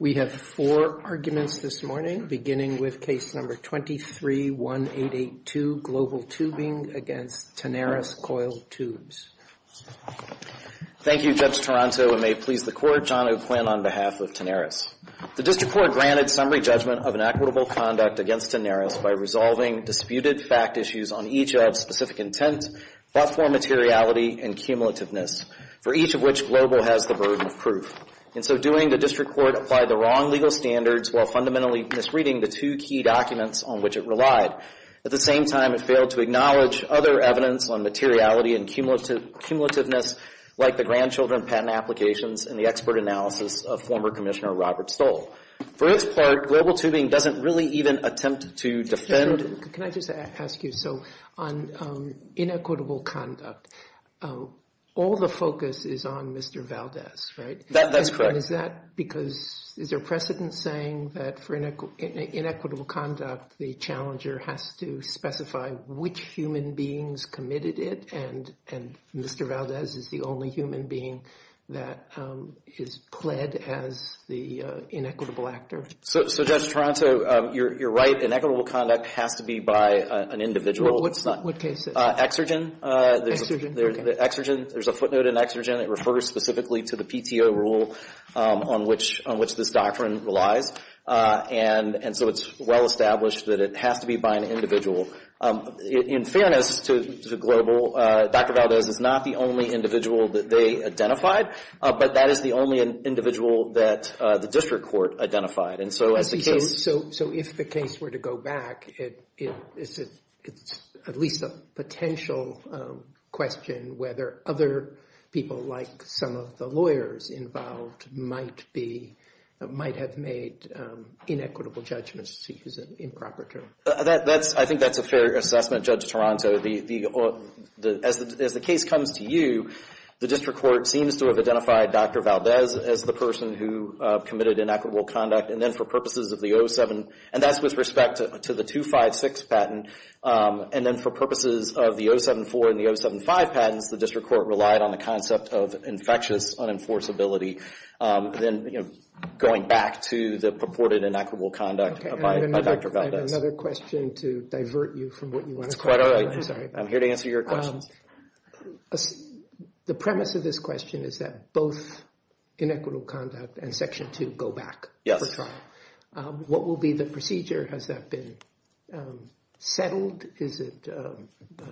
We have four arguments this morning, beginning with case number 23-1882, Global Tubing against Tenaris Coiled Tubes. Thank you, Judge Toronto, and may it please the Court, John O'Quinn on behalf of Tenaris. The District Court granted summary judgment of inequitable conduct against Tenaris by resolving disputed fact issues on each of specific intent, platform materiality, and cumulativeness, for each of which Global has the burden of proof. In so doing, the District Court applied the wrong legal standards while fundamentally misreading the two key documents on which it relied. At the same time, it failed to acknowledge other evidence on materiality and cumulativeness, like the grandchildren patent applications and the expert analysis of former Commissioner Robert Stoll. For its part, Global Tubing doesn't really even attempt to defend... Can I just ask you, so on inequitable conduct, all the focus is on Mr. Valdez, right? That's correct. And is that because, is there precedent saying that for inequitable conduct, the challenger has to specify which human beings committed it, and Mr. Valdez is the only human being that is pled as the inequitable actor? So, Judge Toronto, you're right. Inequitable conduct has to be by an individual. What case is it? Exergen. Exergen. There's a footnote in Exergen. It refers specifically to the PTO rule on which this doctrine relies. And so it's well established that it has to be by an individual. In fairness to Global, Dr. Valdez is not the only individual that they identified, but that is the only individual that the District Court identified. So if the case were to go back, is it at least a potential question whether other people like some of the lawyers involved might have made inequitable judgments, to use an improper term? I think that's a fair assessment, Judge Toronto. As the case comes to you, the District Court seems to have identified Dr. Valdez as the person who committed inequitable conduct, and then for purposes of the 07, and that's with respect to the 256 patent, and then for purposes of the 074 and the 075 patents, the District Court relied on the concept of infectious unenforceability, then going back to the purported inequitable conduct by Dr. Valdez. I have another question to divert you from what you want to talk about. That's quite all right. I'm here to answer your questions. The premise of this question is that both inequitable conduct and Section 2 go back. Yes. What will be the procedure? Has that been settled? Is it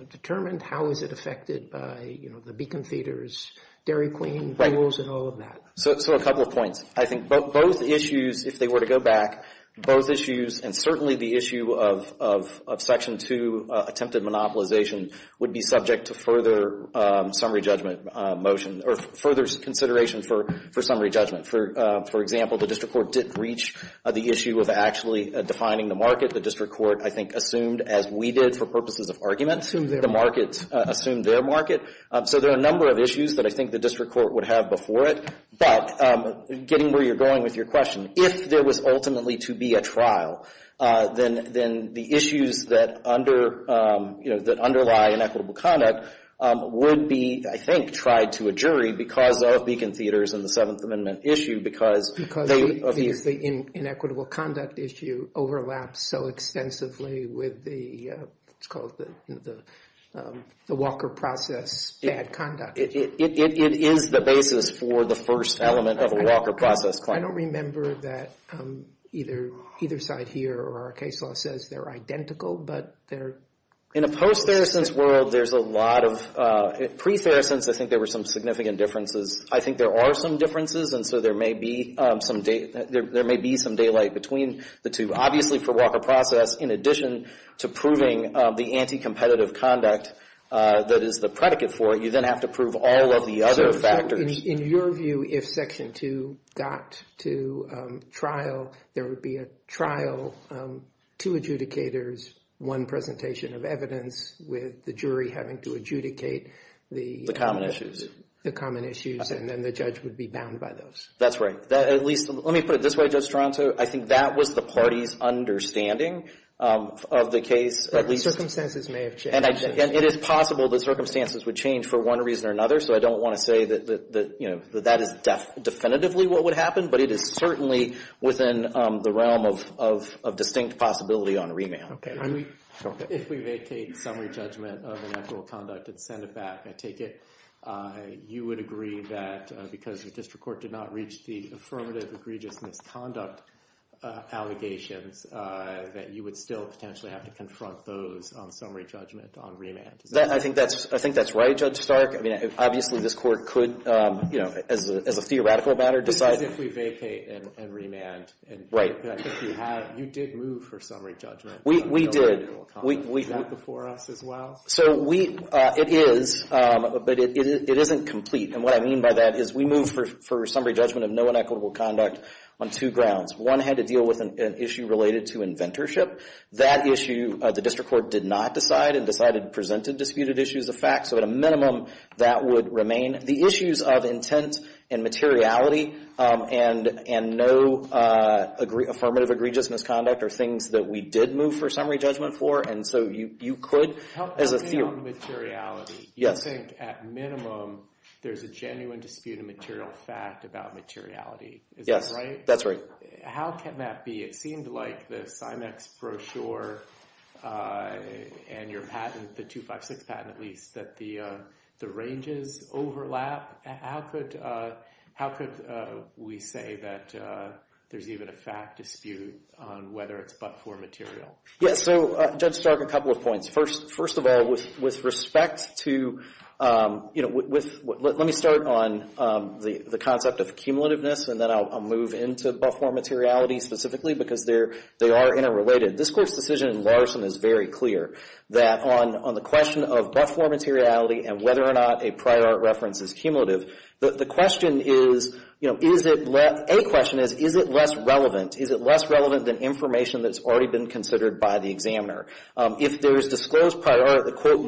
determined? How is it affected by, you know, the beacon feeders, Dairy Queen rules, and all of that? So a couple of points. I think both issues, if they were to go back, both issues, and certainly the issue of Section 2 attempted monopolization would be subject to further summary judgment motion, or further consideration for summary judgment. For example, the District Court didn't reach the issue of actually defining the market. The District Court, I think, assumed, as we did for purposes of argument, assumed their market. So there are a number of issues that I think the District Court would have before it. But getting where you're going with your question, if there was ultimately to be a trial, then the issues that underlie inequitable conduct would be, I think, tried to a jury because of beacon feeders and the Seventh Amendment issue. Because the inequitable conduct issue overlaps so extensively with the, let's call it the Walker process bad conduct. It is the basis for the first element of a Walker process claim. I don't remember that either side here or our case law says they're identical, but they're... In a post-Theresense world, there's a lot of... Pre-Theresense, I think there were some significant differences. I think there are some differences, and so there may be some daylight between the two. Obviously, for Walker process, in addition to proving the anti-competitive conduct that is the predicate for it, you then have to prove all of the other factors. In your view, if Section 2 got to trial, there would be a trial, two adjudicators, one presentation of evidence with the jury having to adjudicate the... The common issues. The common issues, and then the judge would be bound by those. That's right. At least, let me put it this way, Judge Stronto. I think that was the party's understanding of the case. Circumstances may have changed. It is possible that circumstances would change for one reason or another, so I don't want to say that that is definitively what would happen, but it is certainly within the realm of distinct possibility on remand. If we vacate summary judgment of inactual conduct and send it back, I take it you would agree that because the district court did not reach the affirmative egregious misconduct allegations that you would still potentially have to confront those on summary judgment on remand. I think that's right, Judge Stark. Obviously, this court could, as a theoretical matter, decide... This is if we vacate and remand. Right. You did move for summary judgment. We did. No inequitable conduct. Is that before us as well? It is, but it isn't complete. What I mean by that is we moved for summary judgment of no inequitable conduct on two grounds. One had to deal with an issue related to inventorship. That issue, the district court did not decide and decided to present a disputed issue as a fact, so at a minimum that would remain. The issues of intent and materiality and no affirmative egregious misconduct are things that we did move for summary judgment for, and so you could, as a theory... How about materiality? You think at minimum there's a genuine disputed material fact about materiality. Is that right? Yes, that's right. How can that be? It seemed like the SIMEX brochure and your patent, the 256 patent at least, that the ranges overlap. How could we say that there's even a fact dispute on whether it's but-for material? Yes, so Judge Stark, a couple of points. First of all, with respect to... Let me start on the concept of accumulativeness, and then I'll move into but-for materiality specifically because they are interrelated. This court's decision in Larson is very clear that on the question of but-for materiality and whether or not a prior art reference is cumulative, the question is... A question is, is it less relevant? Is it less relevant than information that's already been considered by the examiner? If there is disclosed prior art that, quote,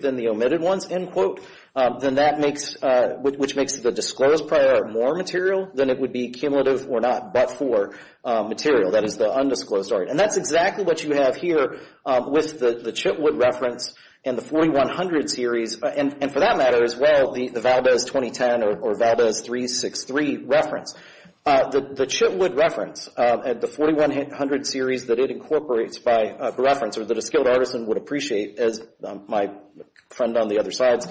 than the omitted ones, end quote, then that makes... which makes the disclosed prior art more material than it would be cumulative or not but-for material. That is the undisclosed art. And that's exactly what you have here with the Chitwood reference and the 4100 series, and for that matter as well, the Valdez 2010 or Valdez 363 reference. The Chitwood reference and the 4100 series that it incorporates by reference or that a skilled artisan would appreciate, as my friend on the other side's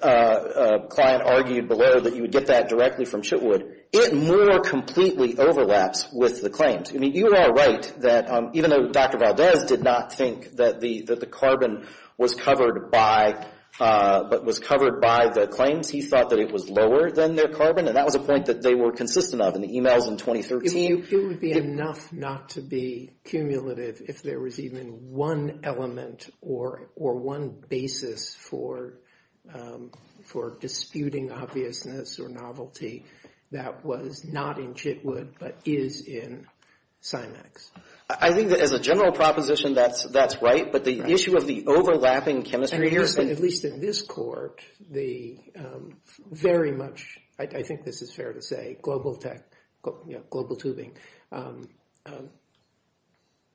client argued below, that you would get that directly from Chitwood. It more completely overlaps with the claims. I mean, you are all right that even though Dr. Valdez did not think that the carbon was covered by the claims, he thought that it was lower than their carbon, and that was a point that they were consistent of in the emails in 2013. It would be enough not to be cumulative if there was even one element or one basis for disputing obviousness or novelty that was not in Chitwood but is in CIMAX. I think that as a general proposition, that's right, but the issue of the overlapping chemistry...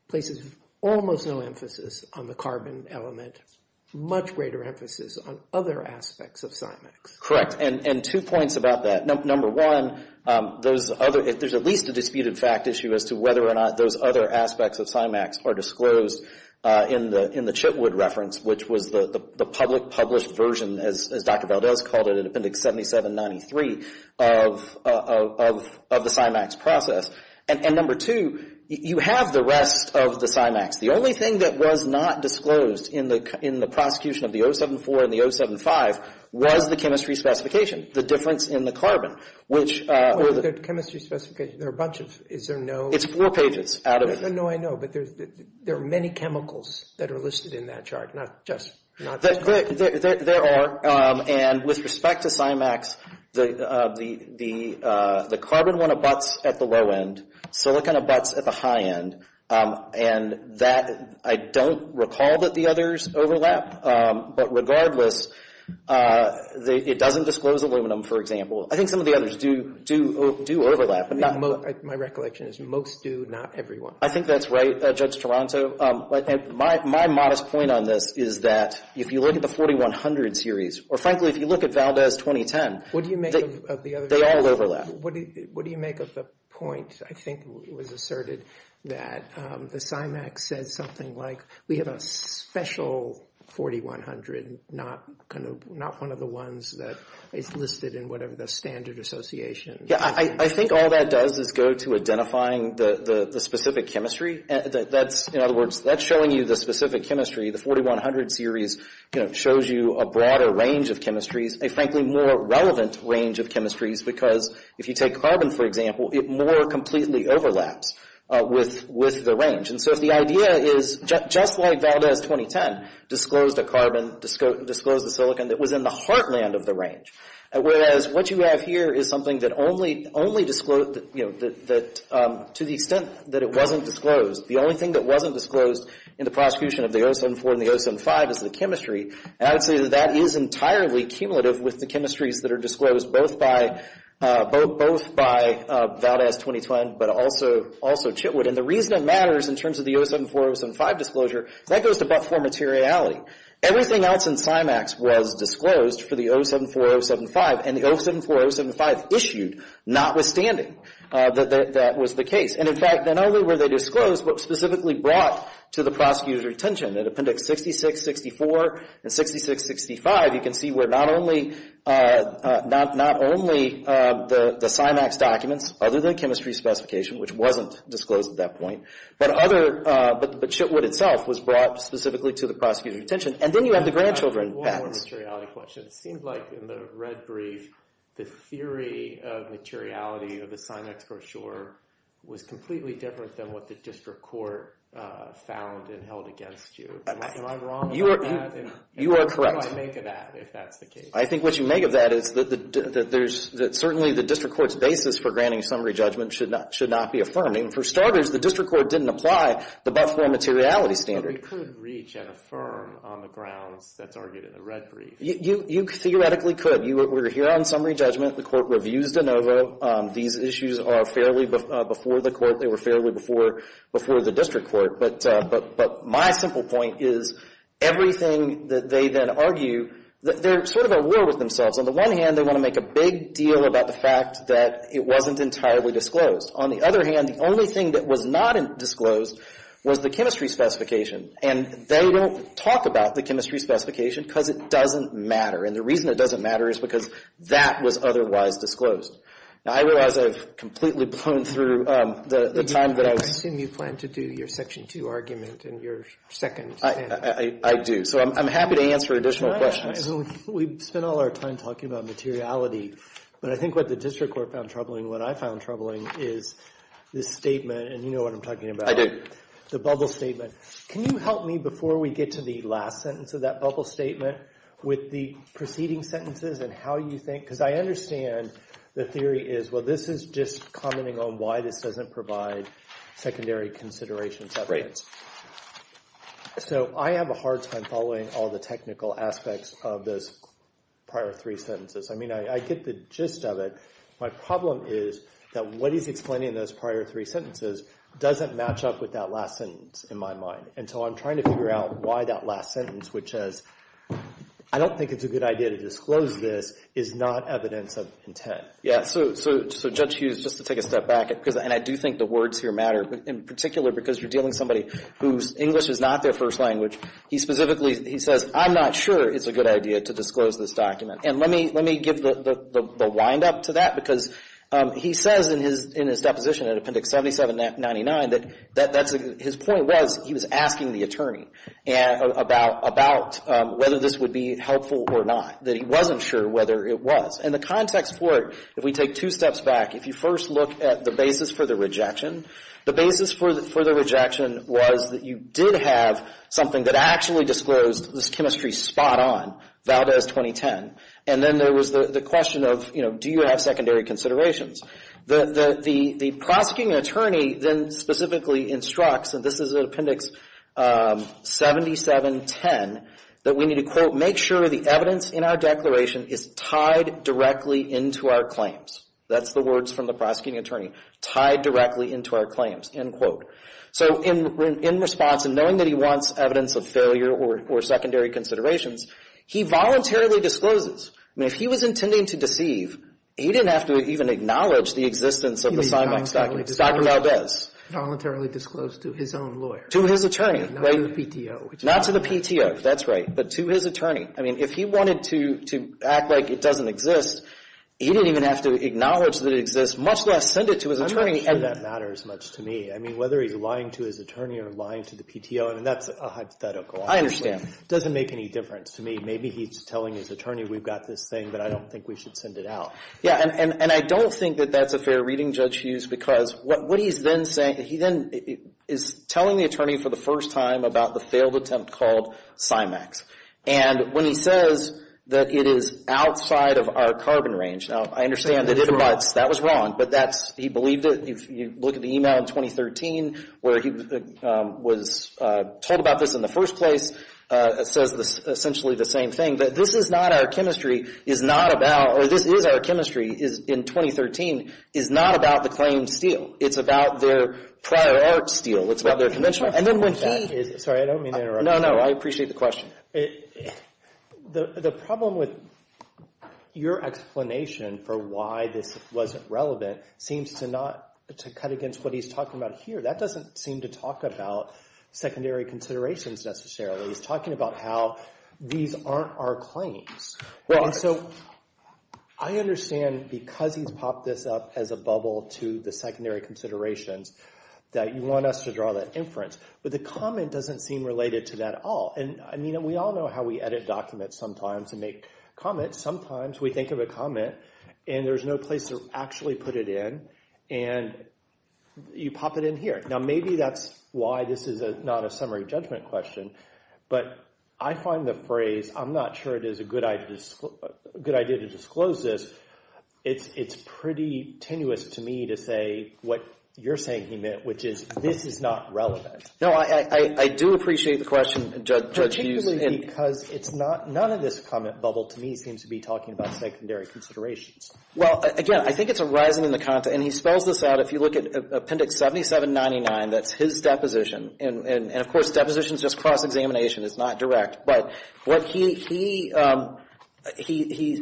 places almost no emphasis on the carbon element, much greater emphasis on other aspects of CIMAX. Correct, and two points about that. Number one, there's at least a disputed fact issue as to whether or not those other aspects of CIMAX are disclosed in the Chitwood reference, which was the public published version, as Dr. Valdez called it, in Appendix 7793 of the CIMAX process. And number two, you have the rest of the CIMAX. The only thing that was not disclosed in the prosecution of the 074 and the 075 was the chemistry specification, the difference in the carbon, which... The chemistry specification, there are a bunch of... It's four pages out of... No, I know, but there are many chemicals that are listed in that chart, not just... There are, and with respect to CIMAX, the carbon one abuts at the low end. Silicon abuts at the high end, and that... I don't recall that the others overlap, but regardless, it doesn't disclose aluminum, for example. I think some of the others do overlap. My recollection is most do, not everyone. I think that's right, Judge Toronto. My modest point on this is that if you look at the 4100 series, or frankly, if you look at Valdez 2010... What do you make of the other... They all overlap. What do you make of the point, I think was asserted, that the CIMAX says something like, we have a special 4100, not one of the ones that is listed in whatever the standard association... Yeah, I think all that does is go to identifying the specific chemistry. That's, in other words, that's showing you the specific chemistry. The 4100 series shows you a broader range of chemistries, a frankly more relevant range of chemistries... because if you take carbon, for example, it more completely overlaps with the range. And so, if the idea is, just like Valdez 2010 disclosed a carbon, disclosed a silicon that was in the heartland of the range... to the extent that it wasn't disclosed. The only thing that wasn't disclosed in the prosecution of the 074 and the 075 is the chemistry. And, I would say that that is entirely cumulative with the chemistries that are disclosed, both by Valdez 2010... but also Chitwood. And, the reason it matters in terms of the 074, 075 disclosure, that goes above for materiality. Everything else in CIMAX was disclosed for the 074, 075. And, the 074, 075 issued, notwithstanding that that was the case. And, in fact, not only were they disclosed, but specifically brought to the prosecutor's attention. In Appendix 66, 64 and 66, 65, you can see where not only the CIMAX documents... other than chemistry specification, which wasn't disclosed at that point. But, other... but Chitwood itself was brought specifically to the prosecutor's attention. And, then you have the grandchildren patents. One more materiality question. It seems like in the red brief, the theory of materiality of the CIMAX brochure... was completely different than what the District Court found and held against you. Am I wrong about that? You are correct. And, what do I make of that, if that's the case? I think what you make of that is that there's... that certainly the District Court's basis for granting summary judgment should not be affirmed. I mean, for starters, the District Court didn't apply the Buff Four materiality standard. We could reach and affirm on the grounds that's argued in the red brief. You theoretically could. We're here on summary judgment. The Court reviews de novo. These issues are fairly before the Court. They were fairly before the District Court. But, my simple point is everything that they then argue, they're sort of at war with themselves. On the one hand, they want to make a big deal about the fact that it wasn't entirely disclosed. On the other hand, the only thing that was not disclosed was the chemistry specification. And, they don't talk about the chemistry specification because it doesn't matter. And, the reason it doesn't matter is because that was otherwise disclosed. Now, I realize I've completely blown through the time that I was... I assume you plan to do your Section 2 argument in your second panel. I do. So, I'm happy to answer additional questions. We've spent all our time talking about materiality. But, I think what the District Court found troubling, what I found troubling, is this statement. And, you know what I'm talking about. I do. The bubble statement. Can you help me before we get to the last sentence of that bubble statement with the preceding sentences and how you think... Because, I understand the theory is, well, this is just commenting on why this doesn't provide secondary considerations evidence. Right. So, I have a hard time following all the technical aspects of those prior three sentences. I mean, I get the gist of it. My problem is that what he's explaining in those prior three sentences doesn't match up with that last sentence in my mind. And so, I'm trying to figure out why that last sentence, which says, I don't think it's a good idea to disclose this, is not evidence of intent. Yeah. So, Judge Hughes, just to take a step back. And, I do think the words here matter. In particular, because you're dealing with somebody whose English is not their first language. He specifically, he says, I'm not sure it's a good idea to disclose this document. And, let me give the wind up to that. Because, he says in his deposition, in Appendix 7799, that his point was, he was asking the attorney about whether this would be helpful or not. That he wasn't sure whether it was. And, the context for it, if we take two steps back, if you first look at the basis for the rejection, the basis for the rejection was that you did have something that actually disclosed this chemistry spot on, Valdez 2010. And then, there was the question of, you know, do you have secondary considerations? The prosecuting attorney then specifically instructs, and this is in Appendix 7710, that we need to, quote, make sure the evidence in our declaration is tied directly into our claims. That's the words from the prosecuting attorney. Tied directly into our claims. End quote. So, in response, and knowing that he wants evidence of failure or secondary considerations, he voluntarily discloses. I mean, if he was intending to deceive, he didn't have to even acknowledge the existence of the Simex document. Dr. Valdez. Voluntarily disclosed to his own lawyer. To his attorney. Not to the PTO. Not to the PTO. That's right. But, to his attorney. I mean, if he wanted to act like it doesn't exist, he didn't even have to acknowledge that it exists, much less send it to his attorney. I'm not sure that matters much to me. I mean, whether he's lying to his attorney or lying to the PTO, I mean, that's a hypothetical. I understand. It doesn't make any difference to me. Maybe he's telling his attorney, we've got this thing, but I don't think we should send it out. Yeah, and I don't think that that's a fair reading, Judge Hughes, because what he's then saying, he then is telling the attorney for the first time about the failed attempt called Simex. And when he says that it is outside of our carbon range, now, I understand that that was wrong, but he believed it. If you look at the email in 2013 where he was told about this in the first place, it says essentially the same thing. That this is not our chemistry is not about, or this is our chemistry in 2013, is not about the claimed steel. It's about their prior art steel. It's about their conventional steel. Sorry, I don't mean to interrupt you. No, no. I appreciate the question. The problem with your explanation for why this wasn't relevant seems to not cut against what he's talking about here. That doesn't seem to talk about secondary considerations necessarily. He's talking about how these aren't our claims. Right. And so I understand because he's popped this up as a bubble to the secondary considerations that you want us to draw that inference. But the comment doesn't seem related to that at all. And, I mean, we all know how we edit documents sometimes and make comments. Sometimes we think of a comment and there's no place to actually put it in. And you pop it in here. Now, maybe that's why this is not a summary judgment question. But I find the phrase, I'm not sure it is a good idea to disclose this. It's pretty tenuous to me to say what you're saying he meant, which is this is not relevant. No, I do appreciate the question, Judge Hughes. Particularly because none of this comment bubble to me seems to be talking about secondary considerations. Well, again, I think it's a rise in the content. And he spells this out. If you look at Appendix 7799, that's his deposition. And, of course, deposition is just cross-examination. It's not direct. But what he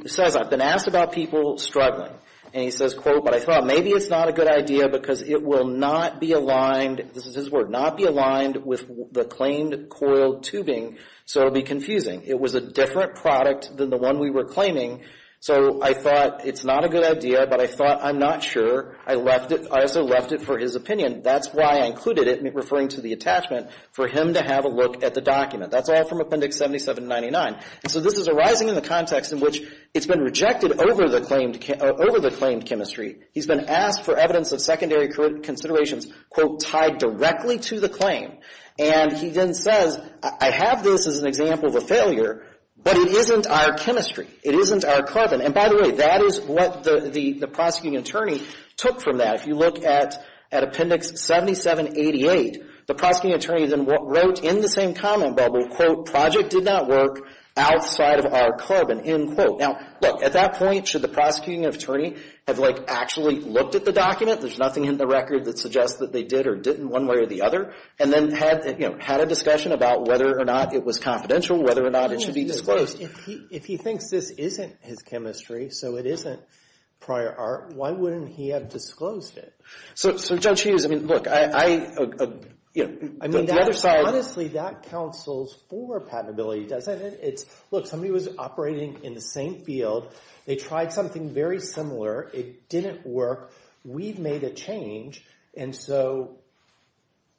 says, I've been asked about people struggling. And he says, quote, but I thought maybe it's not a good idea because it will not be aligned, this is his word, not be aligned with the claimed coral tubing, so it will be confusing. It was a different product than the one we were claiming. So I thought it's not a good idea, but I thought I'm not sure. I also left it for his opinion. That's why I included it, referring to the attachment, for him to have a look at the document. That's all from Appendix 7799. And so this is arising in the context in which it's been rejected over the claimed chemistry. He's been asked for evidence of secondary considerations, quote, tied directly to the claim. And he then says, I have this as an example of a failure, but it isn't our chemistry. It isn't our carbon. And, by the way, that is what the prosecuting attorney took from that. If you look at Appendix 7788, the prosecuting attorney then wrote in the same comment bubble, quote, project did not work outside of our carbon, end quote. Now, look, at that point, should the prosecuting attorney have, like, actually looked at the document, there's nothing in the record that suggests that they did or didn't one way or the other, and then had, you know, had a discussion about whether or not it was confidential, whether or not it should be disclosed? Of course, if he thinks this isn't his chemistry, so it isn't prior art, why wouldn't he have disclosed it? So, Judge Hughes, I mean, look, I, you know, the other side. I mean, honestly, that counsels for patentability, doesn't it? It's, look, somebody was operating in the same field. They tried something very similar. It didn't work. We've made a change, and so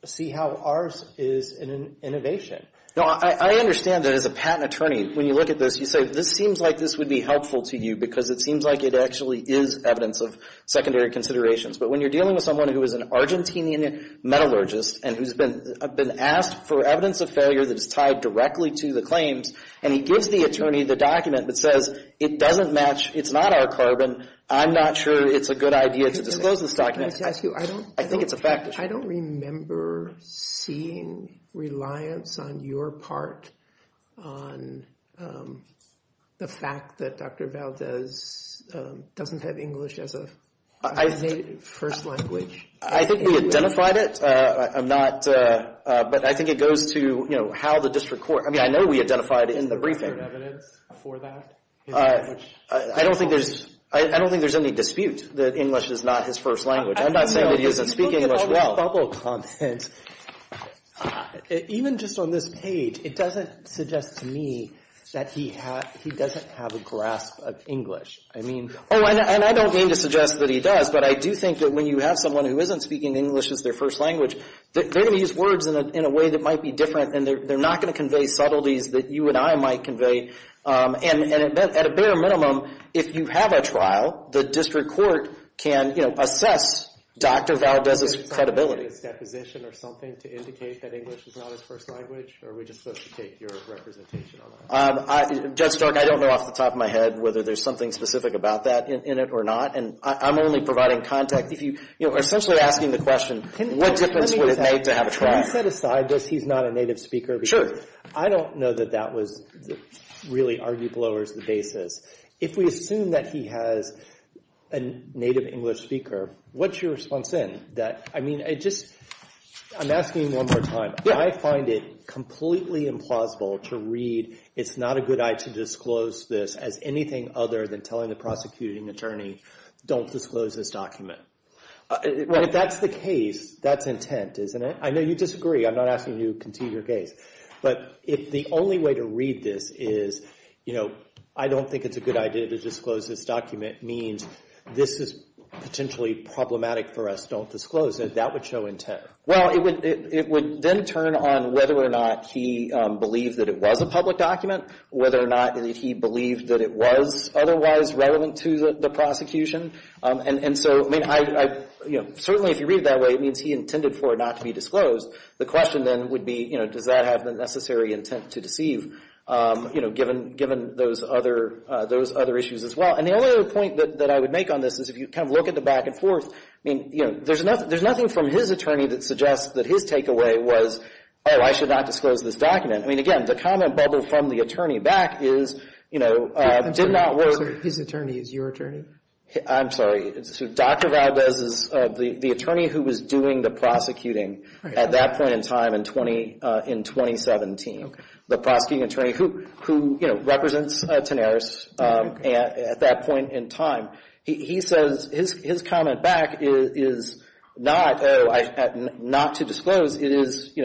see how ours is an innovation. No, I understand that as a patent attorney, when you look at this, you say, this seems like this would be helpful to you, because it seems like it actually is evidence of secondary considerations. But when you're dealing with someone who is an Argentinian metallurgist and who's been asked for evidence of failure that is tied directly to the claims, and he gives the attorney the document that says it doesn't match, it's not our carbon, I'm not sure it's a good idea to disclose this document, I think it's a fact. I don't remember seeing reliance on your part on the fact that Dr. Valdez doesn't have English as a first language. I think we identified it. I'm not, but I think it goes to, you know, how the district court, I mean, I know we identified it in the briefing. Is there evidence for that? I don't think there's any dispute that English is not his first language. I'm not saying that he isn't speaking English well. If you look at the public comment, even just on this page, it doesn't suggest to me that he doesn't have a grasp of English. I mean, oh, and I don't mean to suggest that he does, but I do think that when you have someone who isn't speaking English as their first language, they're going to use words in a way that might be different, and they're not going to convey subtleties that you and I might convey. And at a bare minimum, if you have a trial, the district court can, you know, assess Dr. Valdez's credibility. Is there something in his deposition or something to indicate that English is not his first language, or are we just supposed to take your representation on that? Judge Stark, I don't know off the top of my head whether there's something specific about that in it or not, and I'm only providing context. If you, you know, are essentially asking the question, what difference would it make to have a trial? Can we set aside that he's not a native speaker? Sure. I don't know that that was really arguable or was the basis. If we assume that he has a native English speaker, what's your response then? That, I mean, I just, I'm asking one more time. I find it completely implausible to read, it's not a good idea to disclose this as anything other than telling the prosecuting attorney, don't disclose this document. If that's the case, that's intent, isn't it? I know you disagree. I'm not asking you to continue your case. But if the only way to read this is, you know, I don't think it's a good idea to disclose this document, means this is potentially problematic for us, don't disclose it. That would show intent. Well, it would then turn on whether or not he believed that it was a public document, whether or not he believed that it was otherwise relevant to the prosecution. And so, I mean, I, you know, certainly if you read it that way, it means he intended for it not to be disclosed. The question then would be, you know, does that have the necessary intent to deceive, you know, given those other issues as well. And the only other point that I would make on this is if you kind of look at the back and forth, I mean, you know, there's nothing from his attorney that suggests that his takeaway was, oh, I should not disclose this document. I mean, again, the comment bubble from the attorney back is, you know, did not work. His attorney is your attorney? I'm sorry. Dr. Valdez is the attorney who was doing the prosecuting at that point in time in 2017. The prosecuting attorney who, you know, represents Tenaris at that point in time. He says his comment back is not, oh, not to disclose. It is, you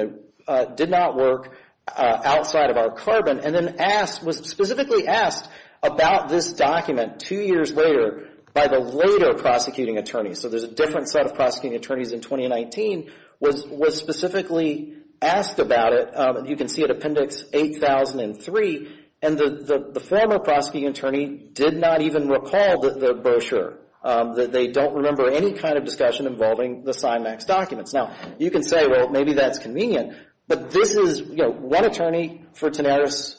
know, did not work outside of our carbon. And then asked, was specifically asked about this document two years later by the later prosecuting attorney. So there's a different set of prosecuting attorneys in 2019 was specifically asked about it. You can see it Appendix 8003. And the former prosecuting attorney did not even recall the brochure, that they don't remember any kind of discussion involving the CIMAX documents. Now, you can say, well, maybe that's convenient. But this is, you know, one attorney for Tenaris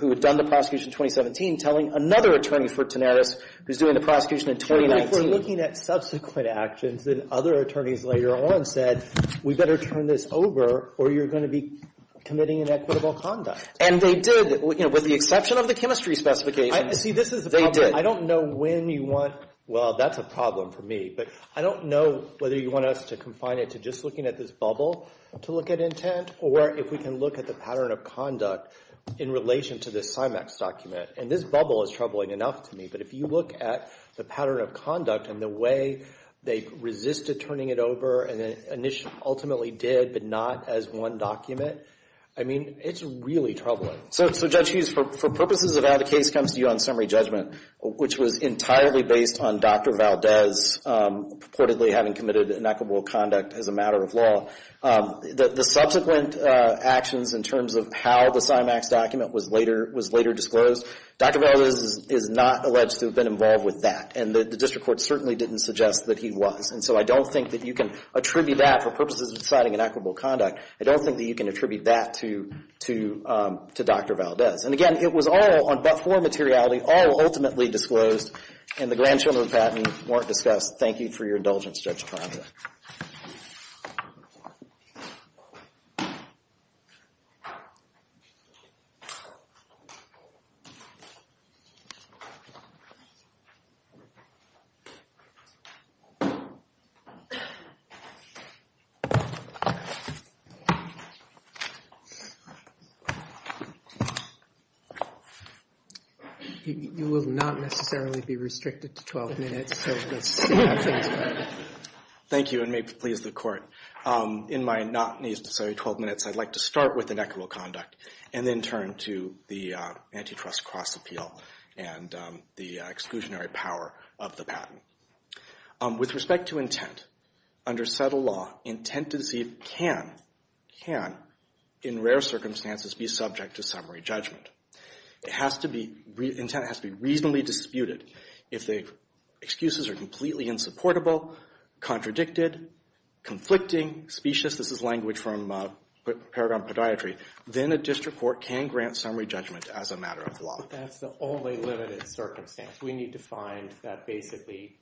who had done the prosecution in 2017 telling another attorney for Tenaris who's doing the prosecution in 2019. But if we're looking at subsequent actions and other attorneys later on said, we better turn this over or you're going to be committing inequitable conduct. And they did, you know, with the exception of the chemistry specifications. See, this is the problem. They did. I don't know when you want. Well, that's a problem for me. But I don't know whether you want us to confine it to just looking at this bubble to look at intent or if we can look at the pattern of conduct in relation to the CIMAX document. And this bubble is troubling enough to me. But if you look at the pattern of conduct and the way they resisted turning it over and ultimately did but not as one document, I mean, it's really troubling. So, Judge Hughes, for purposes of how the case comes to you on summary judgment, which was entirely based on Dr. Valdez purportedly having committed inequitable conduct as a matter of law, the subsequent actions in terms of how the CIMAX document was later disclosed, Dr. Valdez is not alleged to have been involved with that. And the district court certainly didn't suggest that he was. And so I don't think that you can attribute that for purposes of deciding inequitable conduct. I don't think that you can attribute that to Dr. Valdez. And, again, it was all on but for materiality, all ultimately disclosed, and the grandchildren of the patent weren't discussed. Thank you for your indulgence, Judge Taranto. You will not necessarily be restricted to 12 minutes, so let's see how things go. Thank you, and may it please the Court. In my not-necessarily 12 minutes, I'd like to start with inequitable conduct and then turn to the antitrust cross-appeal and the exclusionary power of the patent. With respect to intent, under settled law, intent to deceive can, in rare circumstances, be subject to summary judgment. Intent has to be reasonably disputed. If the excuses are completely insupportable, contradicted, conflicting, specious, this is language from paragraph podiatry, then a district court can grant summary judgment as a matter of law. That's the only limited circumstance. We need to find that basically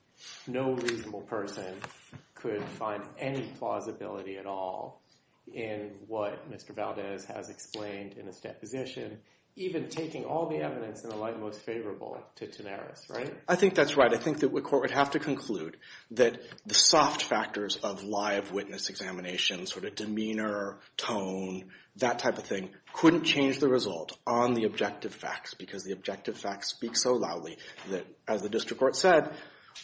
no reasonable person could find any plausibility at all in what Mr. Valdez has explained in his deposition, even taking all the evidence in the light most favorable to Tanaris, right? I think that's right. I think that the Court would have to conclude that the soft factors of lie of witness examination, sort of demeanor, tone, that type of thing, couldn't change the result on the objective facts because the objective facts speak so loudly that, as the district court said,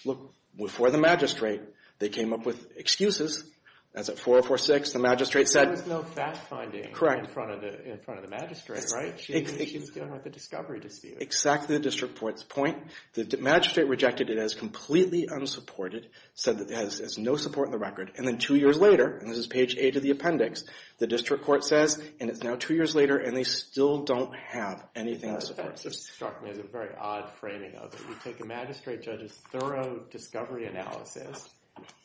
look, before the magistrate, they came up with excuses. That's at 4046. The magistrate said— There was no fact-finding in front of the magistrate, right? She was dealing with a discovery dispute. Exactly the district court's point. The magistrate rejected it as completely unsupported, said it has no support in the record, and then two years later, and this is page 8 of the appendix, the district court says, and it's now two years later, and they still don't have anything to support it. That struck me as a very odd framing of it. You take a magistrate judge's thorough discovery analysis,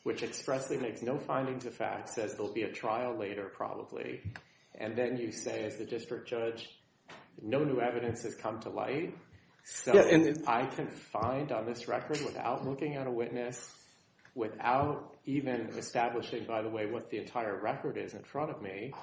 which expressly makes no findings of fact, says there will be a trial later probably, and then you say, as the district judge, no new evidence has come to light, so I can find on this record without looking at a witness, without even establishing, by the way, what the entire record is in front of me,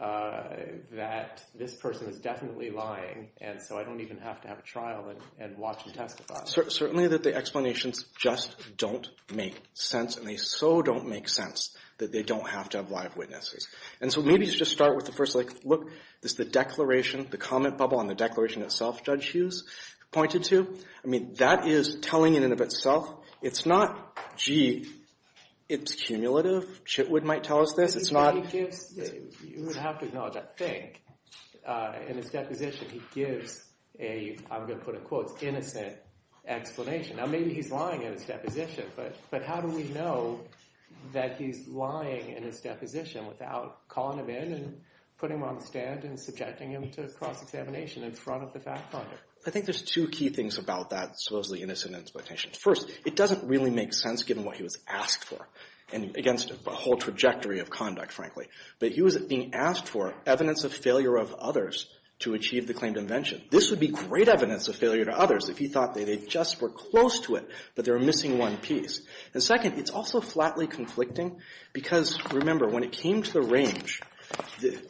that this person is definitely lying, and so I don't even have to have a trial and watch and testify. Certainly that the explanations just don't make sense, and they so don't make sense that they don't have to have live witnesses. And so maybe just start with the first, like, look, this is the declaration, the comment bubble on the declaration itself Judge Hughes pointed to. I mean, that is telling in and of itself. It's not, gee, it's cumulative. Chitwood might tell us this. You would have to acknowledge, I think, in his deposition he gives a, I'm going to put it in quotes, innocent explanation. Now maybe he's lying in his deposition, but how do we know that he's lying in his deposition without calling him in and putting him on the stand and subjecting him to cross-examination in front of the fact finder? I think there's two key things about that supposedly innocent explanation. First, it doesn't really make sense given what he was asked for against a whole trajectory of conduct, frankly. But he was being asked for evidence of failure of others to achieve the claimed invention. This would be great evidence of failure to others if he thought they just were close to it, but they were missing one piece. And second, it's also flatly conflicting because, remember, when it came to the range,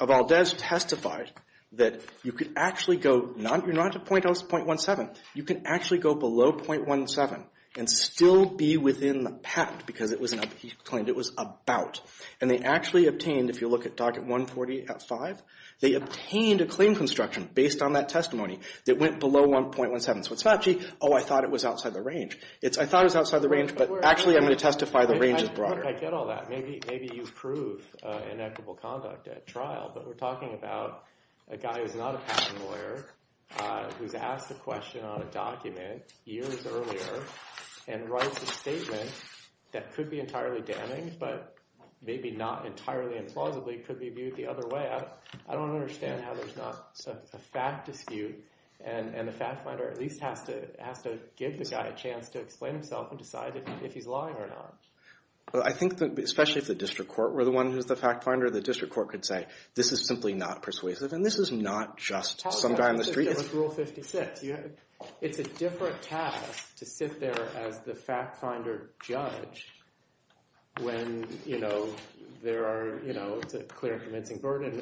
Valdes testified that you could actually go, you're not at .17, you can actually go below .17 and still be within the patent because he claimed it was about. And they actually obtained, if you look at Docket 148.5, they obtained a claim construction based on that testimony that went below .17. So it's not, gee, oh, I thought it was outside the range. I thought it was outside the range, but actually I'm going to testify the range is broader. Look, I get all that. Maybe you prove inequitable conduct at trial, but we're talking about a guy who's not a patent lawyer who's asked a question on a document years earlier and writes a statement that could be entirely damning, but maybe not entirely implausibly could be viewed the other way. I don't understand how there's not a fact dispute and the fact finder at least has to give the guy a chance to explain himself and decide if he's lying or not. Well, I think especially if the district court were the one who's the fact finder, the district court could say this is simply not persuasive and this is not just some guy on the street. It's a different task to sit there as the fact finder judge when it's a clear convincing burden,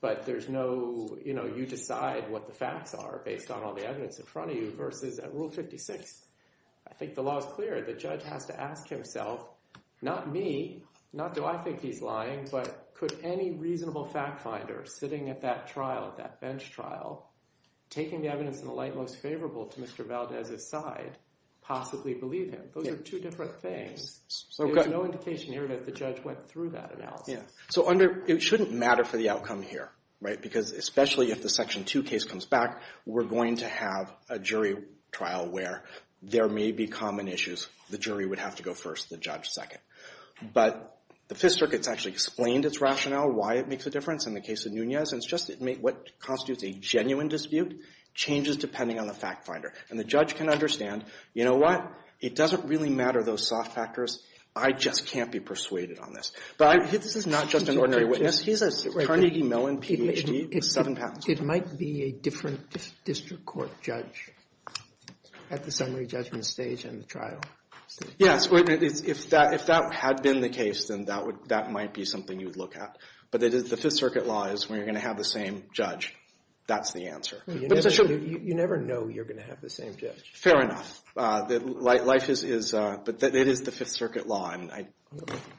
but you decide what the facts are based on all the evidence in front of you versus at Rule 56. I think the law is clear. The judge has to ask himself, not me, not do I think he's lying, but could any reasonable fact finder sitting at that trial, that bench trial, taking the evidence in the light most favorable to Mr. Valdez's side possibly believe him? Those are two different things. There's no indication here that the judge went through that analysis. So it shouldn't matter for the outcome here, right? Because especially if the Section 2 case comes back, we're going to have a jury trial where there may be common issues. The jury would have to go first, the judge second. But the Fifth Circuit's actually explained its rationale, why it makes a difference in the case of Nunez, and it's just what constitutes a genuine dispute changes depending on the fact finder. And the judge can understand, you know what? It doesn't really matter, those soft factors. I just can't be persuaded on this. But this is not just an ordinary witness. He's a Carnegie Mellon Ph.D. with seven patents. It might be a different district court judge at the summary judgment stage in the trial. Yes, if that had been the case, then that might be something you would look at. But the Fifth Circuit law is when you're going to have the same judge, that's the answer. You never know you're going to have the same judge. Fair enough. But it is the Fifth Circuit law, and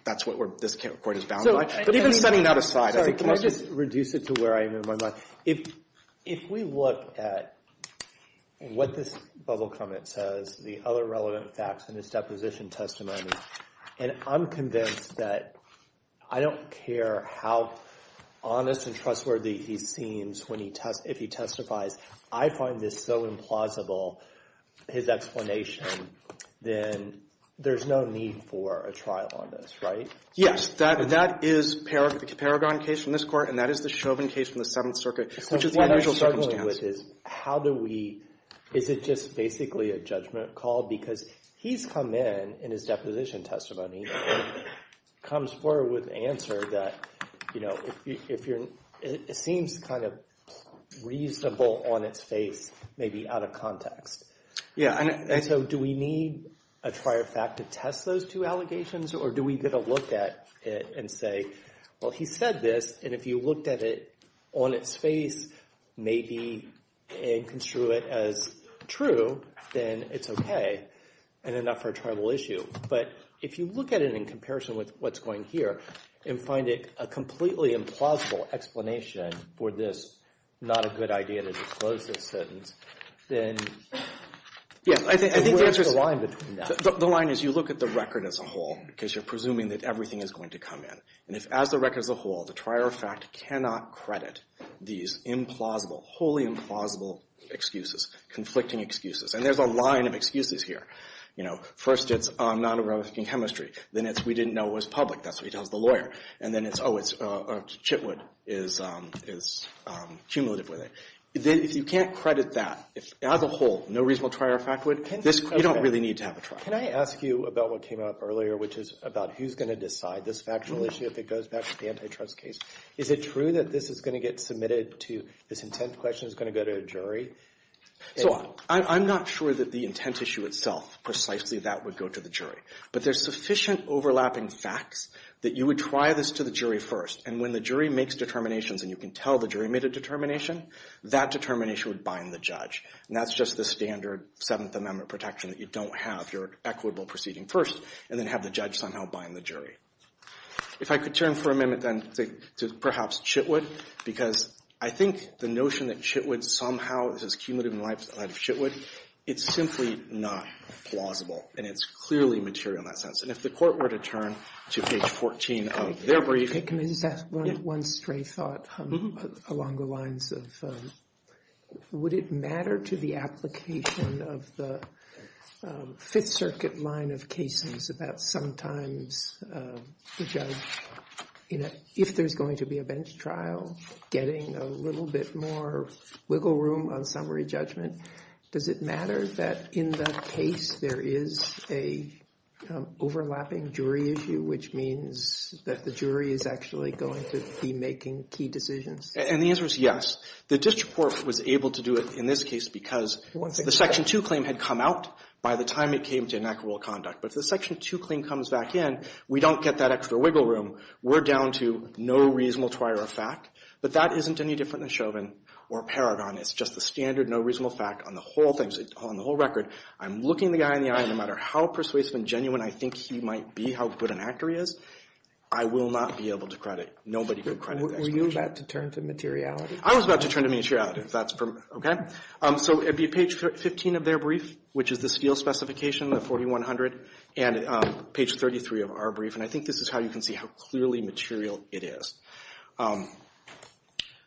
that's what this court is bound by. But even setting that aside as a question. Sorry, can I just reduce it to where I am in my mind? If we look at what this bubble comment says, the other relevant facts in his deposition testimony, and I'm convinced that I don't care how honest and trustworthy he seems if he testifies. I find this so implausible, his explanation, then there's no need for a trial on this, right? Yes, that is Paragon case from this court, and that is the Chauvin case from the Seventh Circuit, which is an unusual circumstance. Is it just basically a judgment call? Because he's come in in his deposition testimony, comes forward with an answer that seems kind of reasonable on its face, maybe out of context. So do we need a prior fact to test those two allegations, or do we get a look at it and say, well, he said this, and if you looked at it on its face, maybe, and construe it as true, then it's okay, and enough for a tribal issue. But if you look at it in comparison with what's going here and find it a completely implausible explanation for this not a good idea to disclose this sentence, then where's the line between that? The line is you look at the record as a whole, because you're presuming that everything is going to come in. And if as the record as a whole, the prior fact cannot credit these implausible, wholly implausible excuses, conflicting excuses, and there's a line of excuses here. You know, first it's non-erotic in chemistry. Then it's we didn't know it was public. That's what he tells the lawyer. And then it's, oh, it's Chitwood is cumulative with it. If you can't credit that as a whole, no reasonable prior fact would, you don't really need to have a trial. Can I ask you about what came up earlier, which is about who's going to decide this factual issue if it goes back to the antitrust case? Is it true that this is going to get submitted to, this intent question is going to go to a jury? So I'm not sure that the intent issue itself, precisely that would go to the jury. But there's sufficient overlapping facts that you would try this to the jury first. And when the jury makes determinations and you can tell the jury made a determination, that determination would bind the judge. And that's just the standard Seventh Amendment protection that you don't have your equitable proceeding first and then have the judge somehow bind the jury. If I could turn for a minute then to perhaps Chitwood, because I think the notion that Chitwood somehow, this is cumulative in the life of Chitwood, it's simply not plausible. And it's clearly material in that sense. And if the court were to turn to page 14 of their brief. Can I just ask one stray thought along the lines of, would it matter to the application of the Fifth Circuit line of cases about sometimes the judge, if there's going to be a bench trial, getting a little bit more wiggle room on summary judgment, does it matter that in that case there is a overlapping jury issue, which means that the jury is actually going to be making key decisions? And the answer is yes. The district court was able to do it in this case because the Section 2 claim had come out by the time it came to inequitable conduct. But if the Section 2 claim comes back in, we don't get that extra wiggle room. We're down to no reasonable trier of fact. But that isn't any different than Chauvin or Paragon. It's just the standard no reasonable fact on the whole thing, on the whole record. I'm looking the guy in the eye, and no matter how persuasive and genuine I think he might be, how good an actor he is, I will not be able to credit. Nobody can credit that. Were you about to turn to materiality? I was about to turn to materiality. So it would be page 15 of their brief, which is the steel specification, the 4100, and page 33 of our brief. And I think this is how you can see how clearly material it is.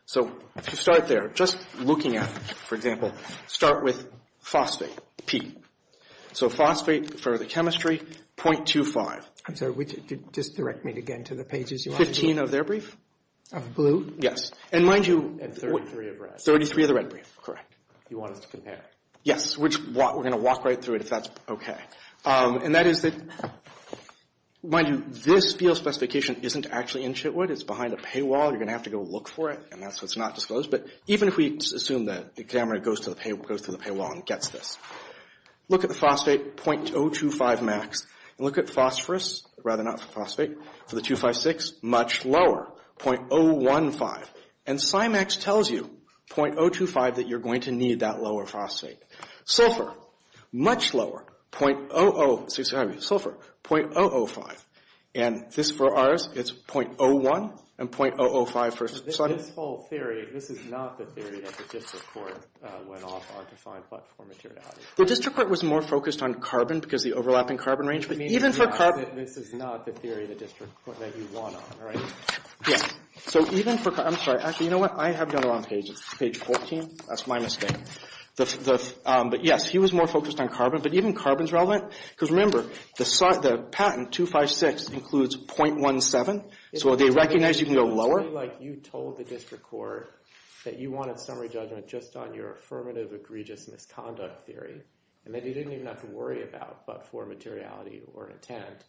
So to start there, just looking at, for example, start with phosphate, P. So phosphate for the chemistry, 0.25. I'm sorry, just direct me again to the pages you want. 15 of their brief. Of blue? Yes. And mind you, 33 of red. 33 of the red brief. Correct. You want us to compare. Yes. We're going to walk right through it if that's okay. And that is that, mind you, this steel specification isn't actually in Chitwood. It's behind a paywall. You're going to have to go look for it, and that's why it's not disclosed. But even if we assume that the examiner goes to the paywall and gets this. Look at the phosphate, 0.025 max. And look at phosphorus, rather than phosphate, for the 2.56, much lower, 0.015. And CIMAX tells you, 0.025, that you're going to need that lower phosphate. Sulfur, much lower, 0.005. And this for ours, it's 0.01 and 0.005. This whole theory, this is not the theory that the district court went off on to find platform materiality. The district court was more focused on carbon because of the overlapping carbon range. But even for carbon. This is not the theory that you won on, right? Yes. So even for, I'm sorry. Actually, you know what? I have done it on page 14. That's my mistake. But yes, he was more focused on carbon. But even carbon's relevant. Because remember, the patent, 2.56, includes 0.17. So they recognize you can go lower. Like you told the district court that you wanted summary judgment just on your affirmative egregious misconduct theory. And that you didn't even have to worry about but-for materiality or intent.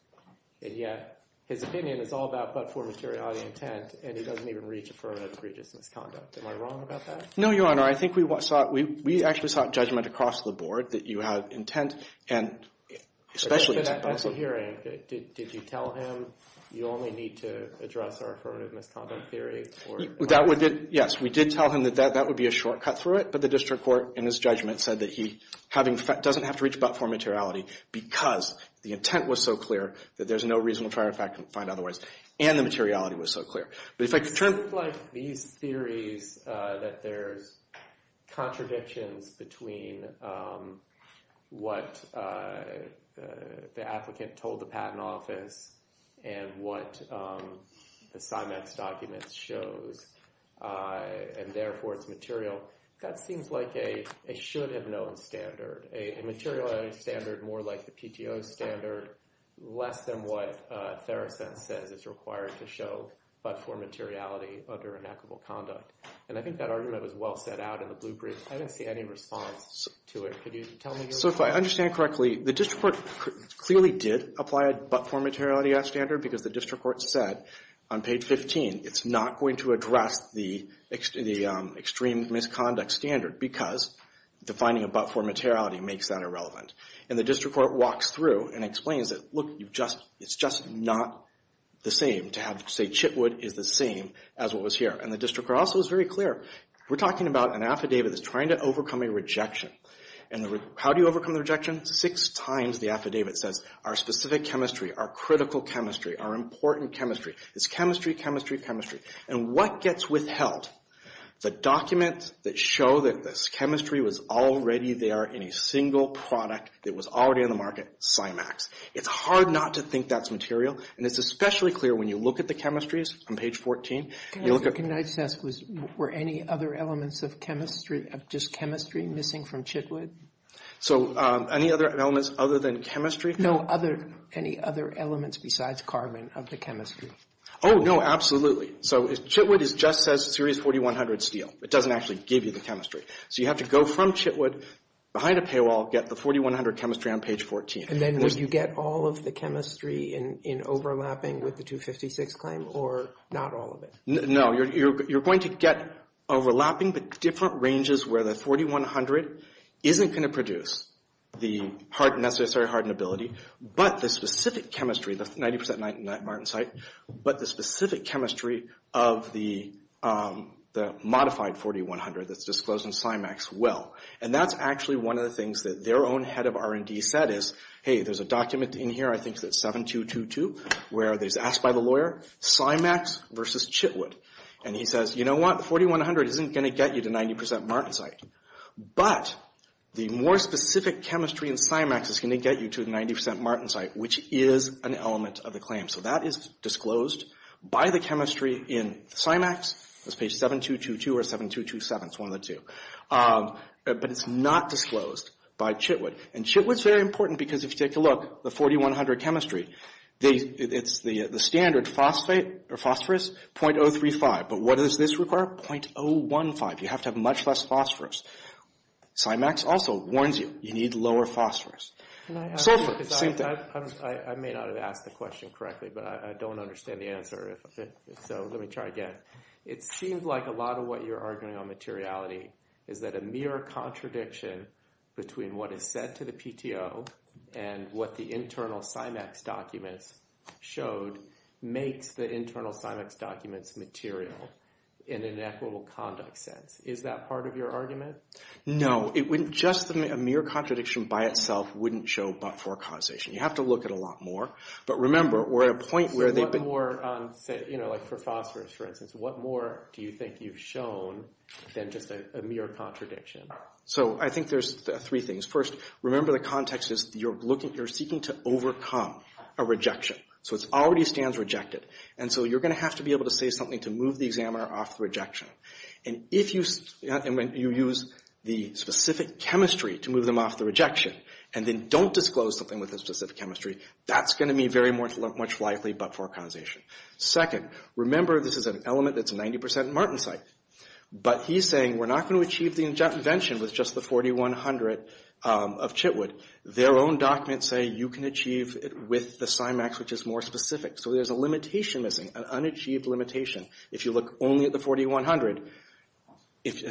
And yet, his opinion is all about but-for materiality intent. And he doesn't even reach affirmative egregious misconduct. Am I wrong about that? No, Your Honor. I think we actually sought judgment across the board that you had intent. And especially... But at the hearing, did you tell him you only need to address our affirmative misconduct theory? That would, yes. We did tell him that that would be a shortcut through it. But the district court, in his judgment, said that he doesn't have to reach but-for materiality because the intent was so clear that there's no reason to try to find otherwise. And the materiality was so clear. It seems like these theories that there's contradictions between what the applicant told the patent office and what the CIMAX document shows and therefore it's material, that seems like a should-have-known standard. A materiality standard more like the PTO standard less than what Theracent says is required to show but-for materiality under inequitable conduct. And I think that argument was well set out in the blueprints. I didn't see any response to it. Could you tell me? So if I understand correctly, the district court clearly did apply a but-for materiality as standard because the district court said on page 15 it's not going to address the extreme misconduct standard because defining a but-for materiality makes that irrelevant. And the district court walks through and explains that, look, it's just not the same to have, say, Chitwood is the same as what was here. And the district court also is very clear. We're talking about an affidavit that's trying to overcome a rejection. How do you overcome the rejection? Six times the affidavit says, our specific chemistry, our critical chemistry, our important chemistry. It's chemistry, chemistry, chemistry. And what gets withheld? The documents that show that this chemistry was already there in a single product that was already on the market, CYMAX. It's hard not to think that's material. And it's especially clear when you look at the chemistries on page 14. Can I just ask, were any other elements of chemistry, of just chemistry, missing from Chitwood? So any other elements other than chemistry? No, any other elements besides carbon of the chemistry. Oh, no, absolutely. So Chitwood just says Series 4100 Steel. It doesn't actually give you the chemistry. So you have to go from Chitwood, behind a paywall, get the 4100 chemistry on page 14. And then would you get all of the chemistry in overlapping with the 256 claim, or not all of it? No, you're going to get overlapping, but different ranges where the 4100 isn't going to produce the necessary hardenability, but the specific chemistry, the 90% martensite, but the specific chemistry of the modified 4100 that's disclosed in CYMAX will. And that's actually one of the things that their own head of R&D said is, hey, there's a document in here, I think that's 7222, where it's asked by the lawyer, CYMAX versus Chitwood. And he says, you know what? 4100 isn't going to get you to 90% martensite, but the more specific chemistry in CYMAX is going to get you to 90% martensite, which is an element of the claim. So that is disclosed by the chemistry in CYMAX. That's page 7222 or 7227, it's one of the two. But it's not disclosed by Chitwood. And Chitwood's very important because if you take a look, the 4100 chemistry, it's the standard phosphorous, 0.035. But what does this require? 0.015. You have to have much less phosphorus. CYMAX also warns you, you need lower phosphorus. Sulfur, same thing. I may not have asked the question correctly, but I don't understand the answer. So let me try again. It seems like a lot of what you're arguing on materiality is that a mere contradiction between what is said to the PTO and what the internal CYMAX documents showed makes the internal CYMAX documents material in an equitable conduct sense. Is that part of your argument? No. Just a mere contradiction by itself wouldn't show but-for causation. You have to look at a lot more. But remember, we're at a point where they've been... What more, like for phosphorus, for instance, what more do you think you've shown than just a mere contradiction? So I think there's three things. First, remember the context is you're seeking to overcome a rejection. So it already stands rejected. And so you're going to have to be able to say something to move the examiner off the rejection. And if you use the specific chemistry to move them off the rejection and then don't disclose something with the specific chemistry, that's going to be very much likely but-for causation. Second, remember this is an element that's 90% Martensite. But he's saying we're not going to achieve the invention with just the 4100 of Chitwood. Their own documents say you can achieve it with the CYMAX, which is more specific. So there's a limitation missing, an unachieved limitation, if you look only at the 4100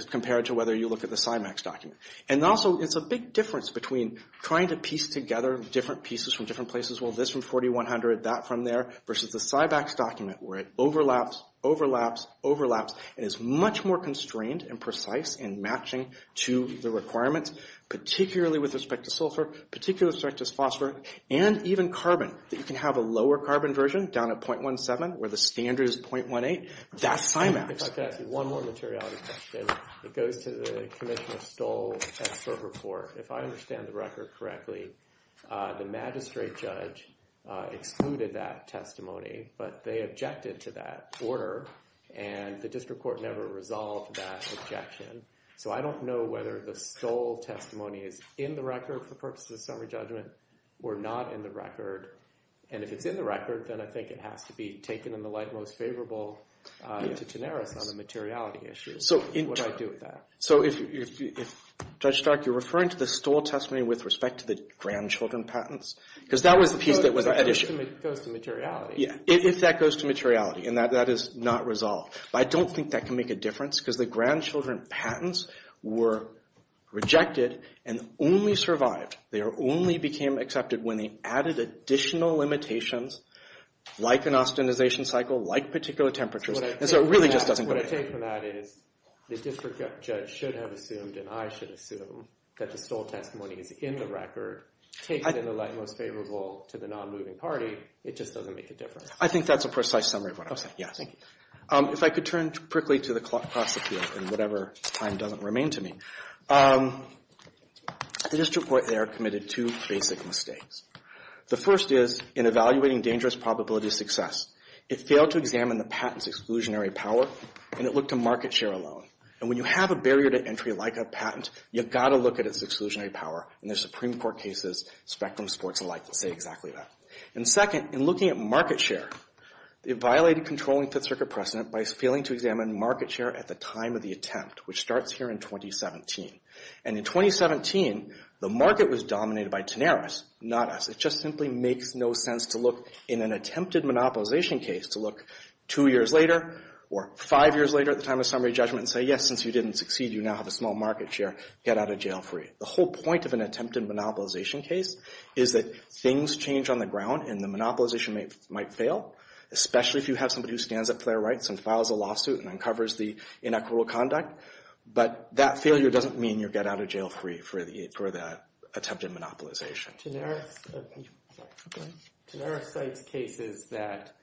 compared to whether you look at the CYMAX document. And also, it's a big difference between trying to piece together different pieces from different places. Well, this from 4100, that from there, versus the CYMAX document where it overlaps, overlaps, overlaps, and is much more constrained and precise in matching to the requirements, particularly with respect to sulfur, particularly with respect to phosphor, and even carbon, that you can have a lower carbon version down at 0.17 where the standard is 0.18. That's CYMAX. If I could ask you one more materiality question. It goes to the Commissioner Stoll expert report. If I understand the record correctly, the magistrate judge excluded that testimony, but they objected to that order, and the district court never resolved that objection. So I don't know whether the Stoll testimony is in the record for purposes of summary judgment or not in the record. And if it's in the record, then I think it has to be taken in the light most favorable to Tenaris on the materiality issue. What do I do with that? So if, Judge Stark, you're referring to the Stoll testimony with respect to the grandchildren patents? Because that was the piece that was at issue. It goes to materiality. Yeah, if that goes to materiality, and that is not resolved. But I don't think that can make a difference because the grandchildren patents were rejected and only survived. They only became accepted when they added additional limitations like an austenization cycle, like particular temperatures. And so it really just doesn't go anywhere. My take from that is the district judge should have assumed, and I should assume, that the Stoll testimony is in the record, takes it in the light most favorable to the non-moving party. It just doesn't make a difference. I think that's a precise summary of what I'm saying. Yeah, thank you. If I could turn quickly to the class appeal in whatever time doesn't remain to me. The district court there committed two basic mistakes. The first is in evaluating dangerous probability of success, it failed to examine the patent's exclusionary power, and it looked to market share alone. And when you have a barrier to entry like a patent, you've got to look at its exclusionary power. And there's Supreme Court cases, spectrum sports alike that say exactly that. And second, in looking at market share, it violated controlling Fifth Circuit precedent by failing to examine market share at the time of the attempt, which starts here in 2017. And in 2017, the market was dominated by Tenaris, not us. It just simply makes no sense to look in an attempted monopolization case to look two years later or five years later at the time of summary judgment and say, yes, since you didn't succeed, you now have a small market share. Get out of jail free. The whole point of an attempted monopolization case is that things change on the ground, and the monopolization might fail, especially if you have somebody who stands up for their rights and files a lawsuit and uncovers the inequitable conduct. But that failure doesn't mean you get out of jail free for the attempted monopolization. Tenaris cites cases that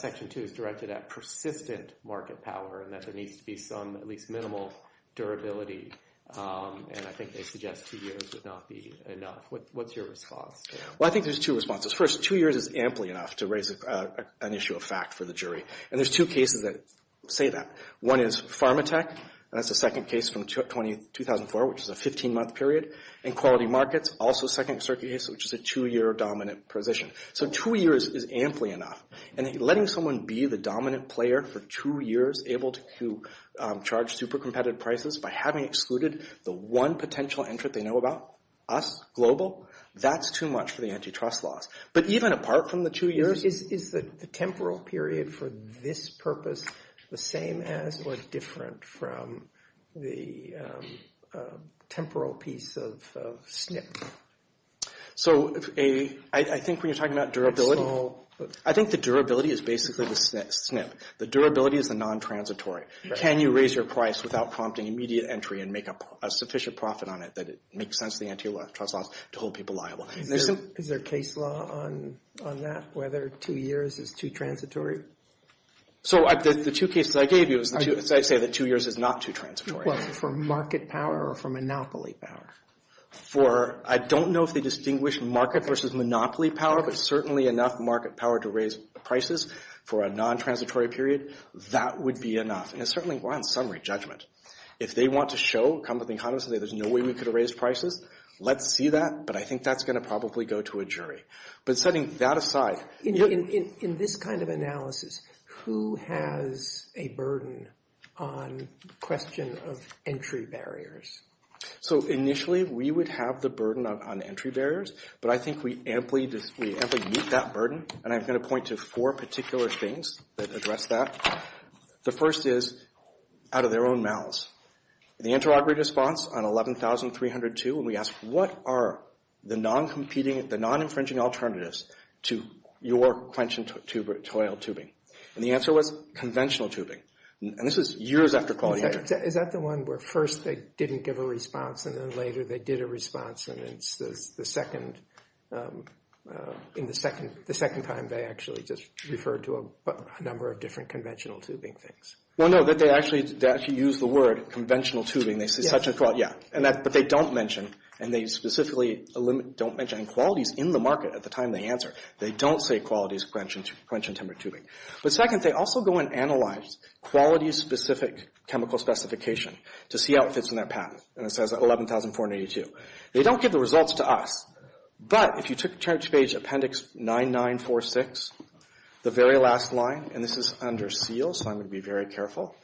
Section 2 is directed at persistent market power and that there needs to be some at least minimal durability. And I think they suggest two years would not be enough. What's your response? Well, I think there's two responses. First, two years is amply enough to raise an issue of fact for the jury. And there's two cases that say that. One is Pharmatec, and that's the second case from 2004, which is a 15-month period in quality markets. Also, second circuit case, which is a two-year dominant position. So two years is amply enough. And letting someone be the dominant player for two years, able to charge super competitive prices by having excluded the one potential entrant they know about, us, global, that's too much for the antitrust laws. But even apart from the two years— Is the temporal period for this purpose the same as or different from the temporal piece of SNP? So I think when you're talking about durability— I think the durability is basically the SNP. The durability is the non-transitory. Can you raise your price without prompting immediate entry and make a sufficient profit on it that it makes sense to the antitrust laws to hold people liable? Is there a case law on that, whether two years is too transitory? So the two cases I gave you— I'd say that two years is not too transitory. Well, for market power or for monopoly power? For—I don't know if they distinguish market versus monopoly power, but certainly enough market power to raise prices for a non-transitory period, that would be enough. And certainly on summary judgment. If they want to show, come to the economist and say, there's no way we could have raised prices, let's see that, but I think that's going to probably go to a jury. But setting that aside— In this kind of analysis, who has a burden on the question of entry barriers? So initially, we would have the burden on entry barriers, but I think we amply meet that burden, and I'm going to point to four particular things that address that. The first is out of their own mouths. The interrogatory response on 11,302, and we asked, what are the non-competing, the non-infringing alternatives to your quench and toil tubing? And the answer was conventional tubing. And this was years after quality entry. Is that the one where first they didn't give a response and then later they did a response, and it's the second time they actually just referred to a number of different conventional tubing things? Well, no, they actually used the word conventional tubing. They said such and such, yeah. But they don't mention, and they specifically don't mention qualities in the market at the time they answer. They don't say qualities of quench and timber tubing. But second, they also go and analyze quality-specific chemical specification to see how it fits in their patent, and it says 11,482. They don't give the results to us, but if you took Church Page Appendix 9946, the very last line, and this is under seal, so I'm going to be very careful,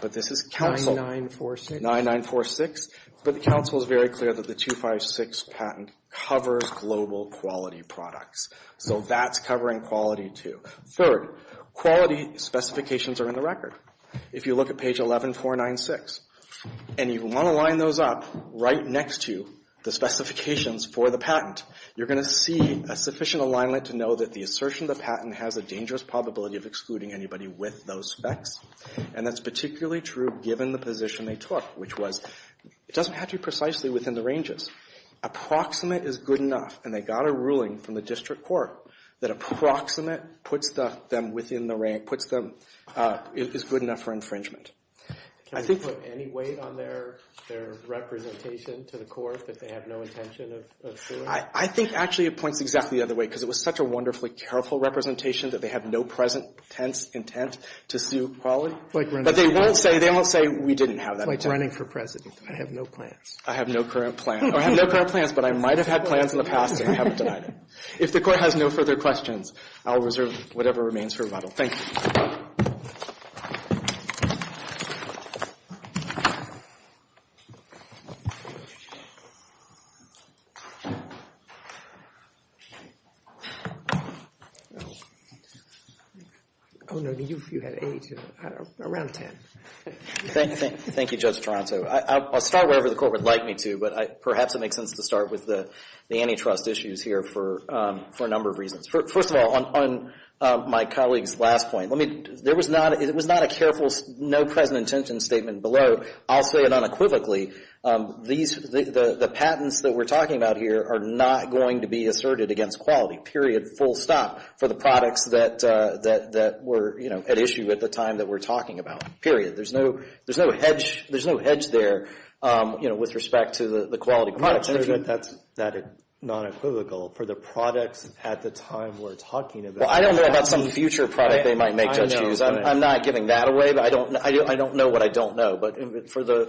but this is Council— 9946? 9946. But the Council is very clear that the 256 patent covers global quality products, so that's covering quality too. Third, quality specifications are in the record. If you look at page 11496, and you want to line those up right next to the specifications for the patent, you're going to see a sufficient alignment to know that the assertion of the patent has a dangerous probability of excluding anybody with those specs, and that's particularly true given the position they took, which was it doesn't have to be precisely within the ranges. Approximate is good enough, and they got a ruling from the district court that approximate is good enough for infringement. Can we put any weight on their representation to the court that they have no intention of doing? I think, actually, it points exactly the other way, because it was such a wonderfully careful representation that they have no present intent to sue quality, but they won't say we didn't have that intent. I'm running for president. I have no plans. I have no current plan, or I have no current plans, but I might have had plans in the past, and I haven't denied it. If the court has no further questions, I'll reserve whatever remains for rebuttal. Thank you. Oh, no, you had eight. Around ten. Thank you, Judge Toronto. I'll start wherever the court would like me to, but perhaps it makes sense to start with the antitrust issues here for a number of reasons. First of all, on my colleague's last point, it was not a careful no present intention statement below. I'll say it unequivocally. The patents that we're talking about here are not going to be asserted against quality, period, full stop, for the products that were at issue at the time that we're talking about, period. There's no hedge there with respect to the quality products. That's not equivocal. For the products at the time we're talking about. Well, I don't know about some future product they might make, Judge Hughes. I'm not giving that away, but I don't know what I don't know. But for the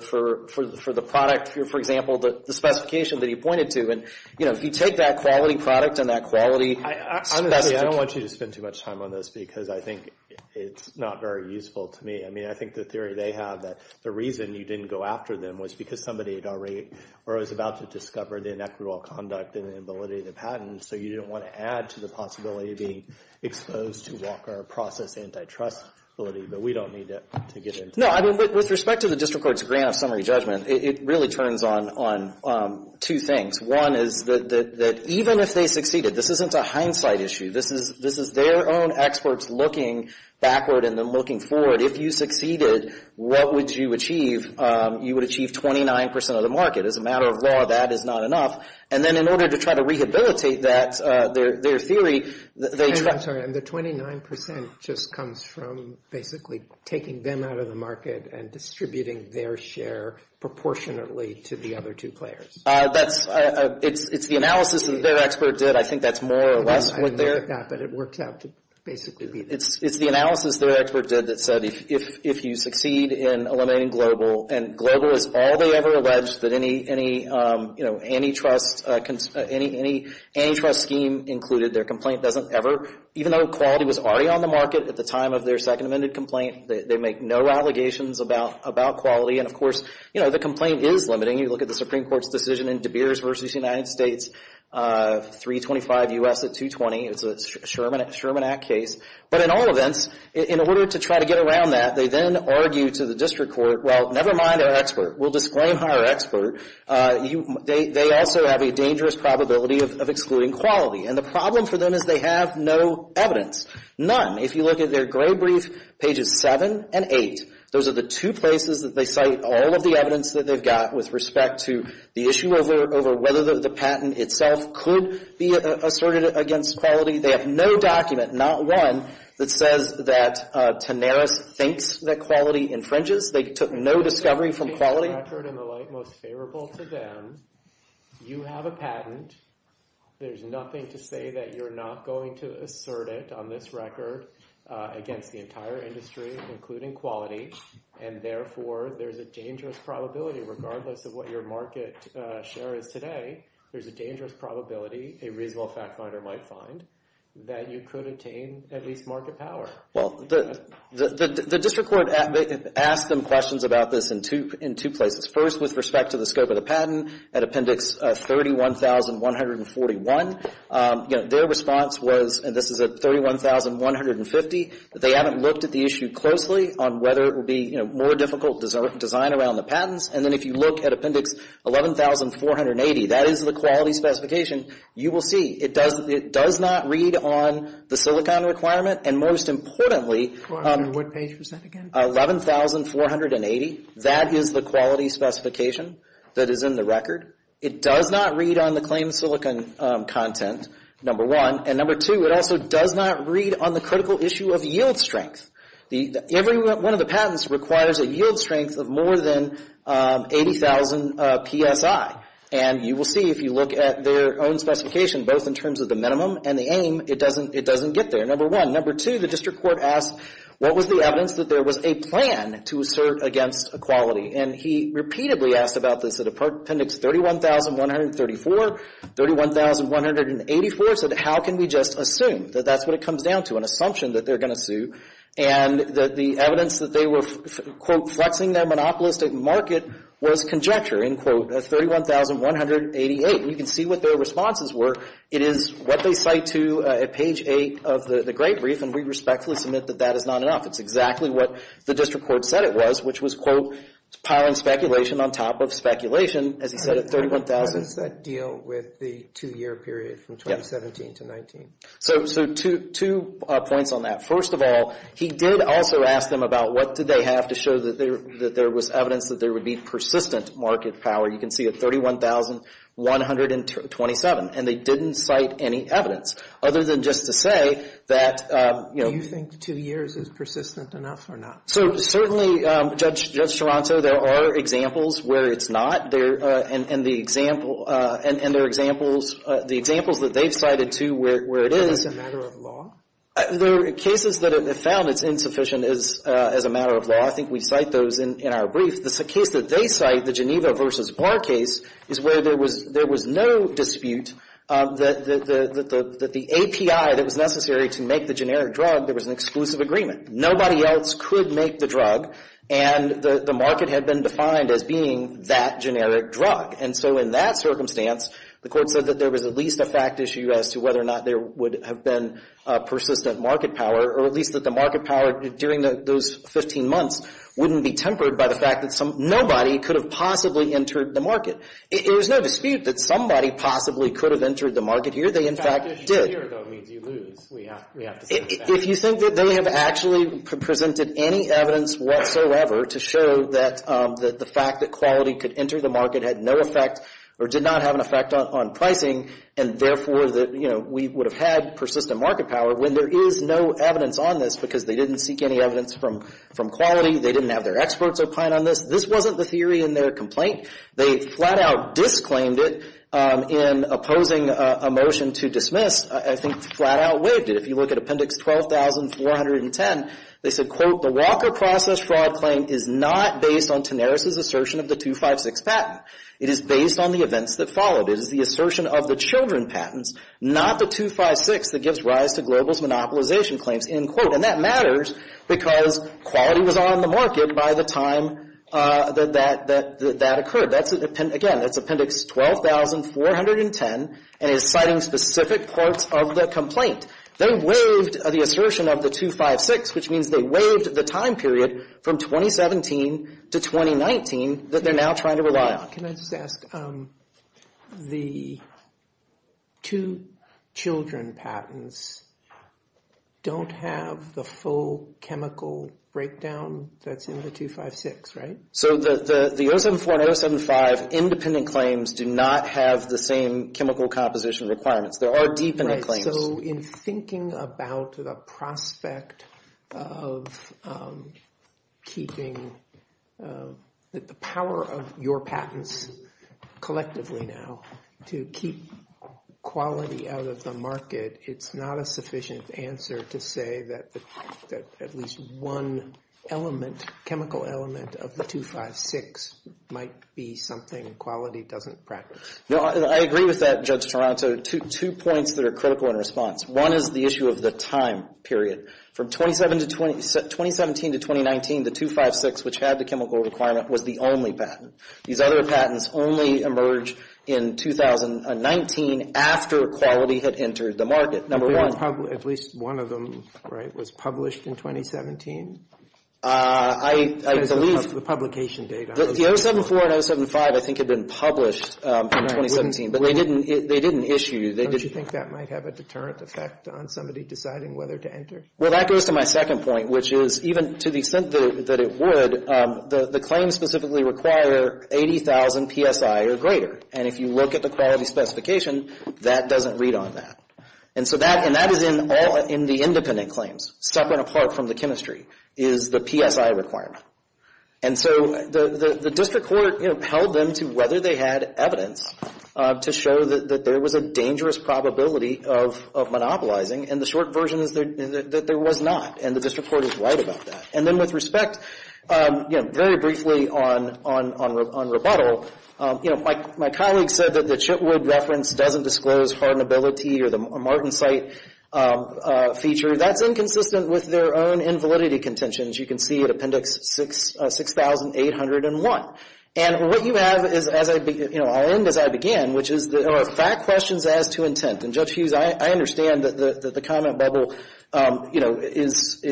product, for example, the specification that he pointed to, you know, if you take that quality product and that quality... I don't want you to spend too much time on this because I think it's not very useful to me. I mean, I think the theory they have that the reason you didn't go after them was because somebody had already or was about to discover the inequitable conduct and inability of the patent, so you don't want to add to the possibility of being exposed to Walker process antitrust ability, but we don't need to get into that. No, I mean, with respect to the District Court's grant of summary judgment, it really turns on two things. One is that even if they succeeded, this isn't a hindsight issue. This is their own experts looking backward and then looking forward. If you succeeded, what would you achieve? You would achieve 29% of the market. As a matter of law, that is not enough. And then in order to try to rehabilitate that, their theory... I'm sorry, and the 29% just comes from basically taking them out of the market and distributing their share proportionately to the other two players. That's...it's the analysis that their expert did. I think that's more or less what their... I didn't know that, but it works out to basically be that. It's the analysis their expert did that said if you succeed in eliminating Global, and Global is all they ever allege that any, you know, antitrust... any antitrust scheme included, their complaint doesn't ever, even though quality was already on the market at the time of their Second Amendment complaint, they make no allegations about quality. And of course, you know, the complaint is limiting. You look at the Supreme Court's decision in De Beers v. United States, 325 U.S. at 220. It's a Sherman Act case. But in all events, in order to try to get around that, they then argue to the district court, well, never mind our expert. We'll disclaim our expert. They also have a dangerous probability of excluding quality. And the problem for them is they have no evidence, none. If you look at their gray brief, pages 7 and 8, those are the two places that they cite all of the evidence that they've got with respect to the issue over whether the patent itself could be asserted against quality. They have no document, not one, that says that Tanaris thinks that quality infringes. They took no discovery from quality. ...record in the light most favorable to them. You have a patent. There's nothing to say that you're not going to assert it on this record against the entire industry, including quality, and therefore there's a dangerous probability, regardless of what your market share is today, there's a dangerous probability a reasonable fact finder might find that you could attain at least market power. Well, the district court asked them questions about this in two places. First, with respect to the scope of the patent, at Appendix 31,141, their response was, and this is at 31,150, that they haven't looked at the issue closely on whether it would be more difficult to design around the patents. And then if you look at Appendix 11,480, that is the quality specification you will see. It does not read on the silicon requirement, and most importantly, 11,480, that is the quality specification that is in the record. It does not read on the claimed silicon content, number one. And number two, it also does not read on the critical issue of yield strength. Every one of the patents requires a yield strength of more than 80,000 PSI. And you will see if you look at their own specification, both in terms of the minimum and the aim, it doesn't get there, number one. Number two, the district court asked, what was the evidence that there was a plan to assert against equality? And he repeatedly asked about this at Appendix 31,134, 31,184. He said, how can we just assume that that's what it comes down to, an assumption that they're going to sue? And the evidence that they were, quote, flexing their monopolistic market was conjecture, end quote, at 31,188. And you can see what their responses were. It is what they cite to at page eight of the great brief, and we respectfully submit that that is not enough. It's exactly what the district court said it was, which was, quote, piling speculation on top of speculation, as he said at 31,000. How does that deal with the two-year period from 2017 to 19? So two points on that. First of all, he did also ask them about what did they have to show that there was evidence that there would be persistent market power. You can see at 31,127, and they didn't cite any evidence, other than just to say that, you know. Do you think two years is persistent enough or not? So certainly, Judge Toronto, there are examples where it's not. And the examples that they've cited, too, where it is. So it's a matter of law? There are cases that have found it's insufficient as a matter of law. I think we cite those in our brief. The case that they cite, the Geneva v. Barr case, is where there was no dispute that the API that was necessary to make the generic drug, there was an exclusive agreement. Nobody else could make the drug, and the market had been defined as being that generic drug. And so in that circumstance, the court said that there was at least a fact issue as to whether or not there would have been persistent market power, or at least that the market power during those 15 months wouldn't be tempered by the fact that nobody could have possibly entered the market. There was no dispute that somebody possibly could have entered the market here. They, in fact, did. Fact issue here, though, means you lose. We have to say that. If you think that they have actually presented any evidence whatsoever to show that the fact that quality could enter the market had no effect or did not have an effect on pricing, and therefore that we would have had persistent market power, when there is no evidence on this because they didn't seek any evidence from quality, they didn't have their experts opine on this, this wasn't the theory in their complaint. They flat-out disclaimed it in opposing a motion to dismiss. I think flat-out waived it. If you look at Appendix 12410, they said, quote, the Walker process fraud claim is not based on Tenaris' assertion of the 256 patent. It is based on the events that followed. It is the assertion of the children patents, not the 256, that gives rise to Global's monopolization claims, end quote. And that matters because quality was on the market by the time that that occurred. Again, that's Appendix 12410, and it's citing specific parts of the complaint. They waived the assertion of the 256, which means they waived the time period from 2017 to 2019 that they're now trying to rely on. Can I just ask, the two children patents don't have the full chemical breakdown that's in the 256, right? So the 074 and 075 independent claims do not have the same chemical composition requirements. There are deepening claims. So in thinking about the prospect of keeping the power of your patents collectively now to keep quality out of the market, it's not a sufficient answer to say that at least one element, chemical element of the 256 might be something quality doesn't practice. No, I agree with that, Judge Toronto. Two points that are critical in response. One is the issue of the time period. From 2017 to 2019, the 256, which had the chemical requirement, was the only patent. These other patents only emerged in 2019 after quality had entered the market, number one. At least one of them, right, was published in 2017? I believe... The publication date. The 074 and 075 I think had been published in 2017, but they didn't issue... Don't you think that might have a deterrent effect on somebody deciding whether to enter? Well, that goes to my second point, which is even to the extent that it would, the claims specifically require 80,000 PSI or greater. And if you look at the quality specification, that doesn't read on that. And that is in the independent claims, separate and apart from the chemistry, is the PSI requirement. And so the district court held them to whether they had evidence to show that there was a dangerous probability of monopolizing, and the short version is that there was not, and the district court is right about that. And then with respect, very briefly on rebuttal, my colleague said that the Chitwood reference doesn't disclose hardenability or the Martensite feature. That's inconsistent with their own invalidity contentions. You can see at Appendix 6801. And what you have is, as I, you know, I'll end as I began, which is there are fact questions as to intent. And Judge Hughes, I understand that the comment bubble, you know, is,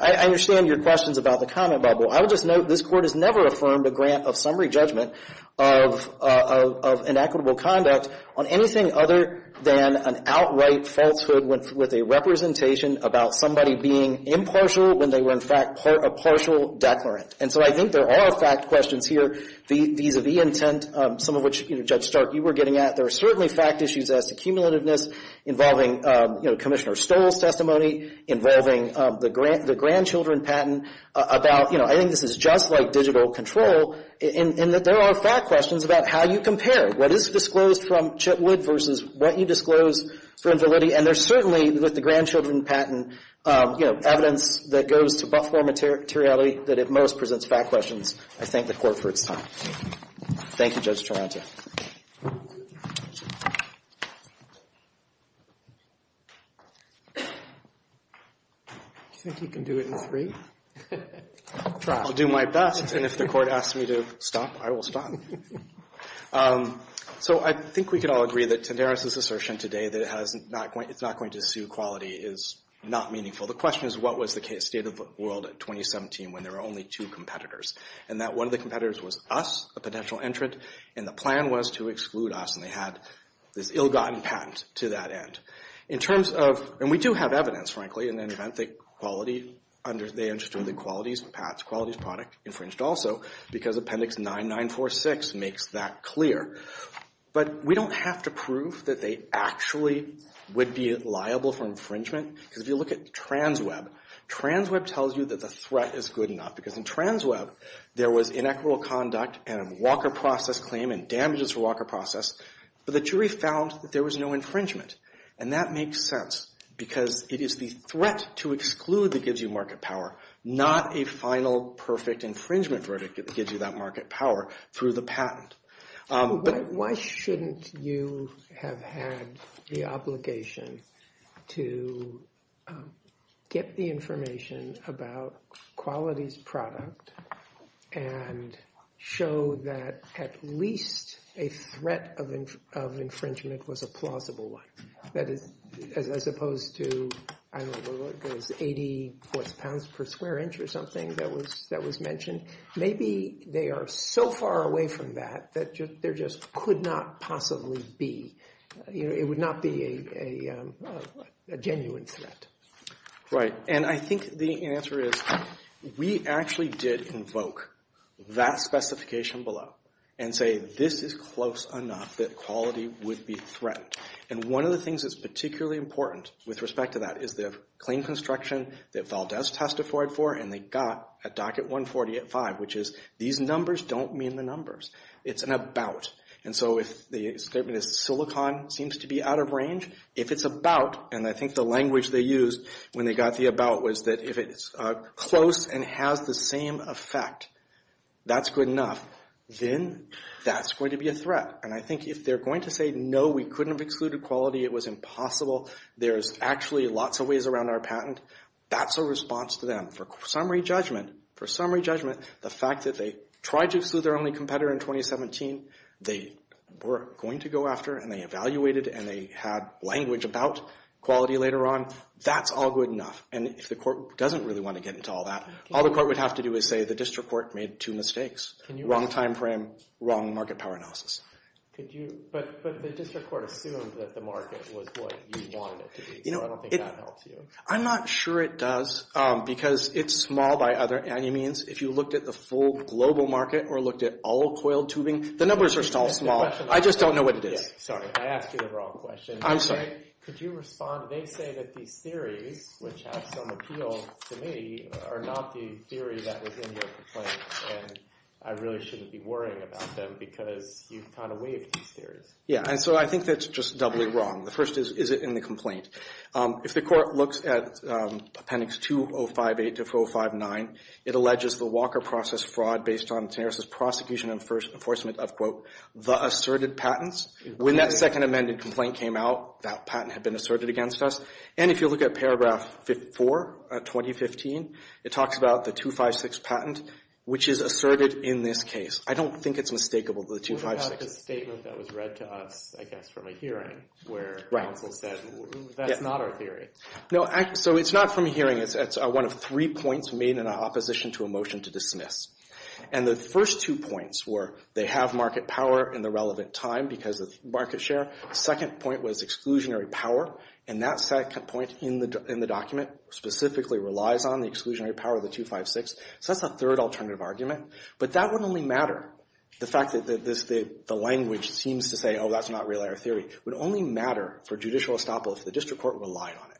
I understand your questions about the comment bubble. I will just note this Court has never affirmed a grant of summary judgment of inequitable conduct on anything other than an outright falsehood with a representation about somebody being impartial when they were, in fact, a partial declarant. And so I think there are fact questions here vis-à-vis intent, some of which, you know, Judge Stark, you were getting at. There are certainly fact issues as to cumulativeness involving, you know, Commissioner Stoll's testimony, involving the grandchildren patent about, you know, I think this is just like digital control, in that there are fact questions about how you compare what is disclosed from Chitwood versus what you disclose for invalidity. And there's certainly, with the grandchildren patent, you know, evidence that goes to Buffmore materiality that at most presents fact questions. I thank the Court for its time. Thank you, Judge Taranto. Do you think you can do it in three? I'll do my best. And if the Court asks me to stop, I will stop. So I think we can all agree that Tenderis' assertion today that it's not going to sue Quality is not meaningful. The question is what was the state of the world in 2017 when there were only two competitors, and that one of the competitors was us, a potential entrant, and the plan was to exclude us, and they had this ill-gotten patent to that end. In terms of, and we do have evidence, frankly, in an event that Quality, they understood that Quality's product infringed also because Appendix 9946 makes that clear. But we don't have to prove that they actually would be liable for infringement because if you look at TransWeb, TransWeb tells you that the threat is good enough because in TransWeb there was inequitable conduct and a Walker process claim and damages for Walker process, but the jury found that there was no infringement. And that makes sense because it is the threat to exclude that gives you market power, not a final perfect infringement verdict that gives you that market power through the patent. Why shouldn't you have had the obligation to get the information about Quality's product and show that at least a threat of infringement was a plausible one? That is, as opposed to, I don't know, 80 pounds per square inch or something that was mentioned, maybe they are so far away from that that there just could not possibly be, it would not be a genuine threat. Right, and I think the answer is we actually did invoke that specification below and say, this is close enough that Quality would be threatened. And one of the things that's particularly important with respect to that is the claim construction that Valdez testified for and they got at Docket 140 at 5, which is these numbers don't mean the numbers. It's an about. And so if the statement is silicon seems to be out of range, if it's about, and I think the language they used when they got the about was that if it's close and has the same effect, that's good enough, then that's going to be a threat. And I think if they're going to say, no, we couldn't have excluded Quality, it was impossible, there's actually lots of ways around our patent, that's a response to them. For summary judgment, the fact that they tried to exclude their only competitor in 2017, they were going to go after and they evaluated and they had language about Quality later on, that's all good enough. And if the court doesn't really want to get into all that, all the court would have to do is say, the district court made two mistakes. Wrong time frame, wrong market power analysis. But the district court assumed that the market was what you wanted it to be, so I don't think that helps you. I'm not sure it does because it's small by any means. If you looked at the full global market or looked at all coiled tubing, the numbers are still small. I just don't know what it is. Sorry, I asked you the wrong question. I'm sorry. Could you respond? They say that these theories, which have some appeal to me, are not the theory that was in your complaint and I really shouldn't be worrying about them because you've kind of waived these theories. Yeah, and so I think that's just doubly wrong. The first is, is it in the complaint? If the court looks at Appendix 2058 to 4059, it alleges the Walker process fraud based on Tanaris' prosecution and enforcement of, quote, the asserted patents. When that second amended complaint came out, that patent had been asserted against us. And if you look at Paragraph 4, 2015, it talks about the 256 patent, which is asserted in this case. I don't think it's mistakable, the 256. That's a statement that was read to us, I guess, from a hearing where counsel said, that's not our theory. No, so it's not from a hearing. It's one of three points made in opposition to a motion to dismiss. And the first two points were they have market power in the relevant time because of market share. The second point was exclusionary power. And that second point in the document specifically relies on the exclusionary power of the 256. So that's the third alternative argument. But that would only matter, the fact that the language seems to say, oh, that's not really our theory, would only matter for judicial estoppel if the district court relied on it.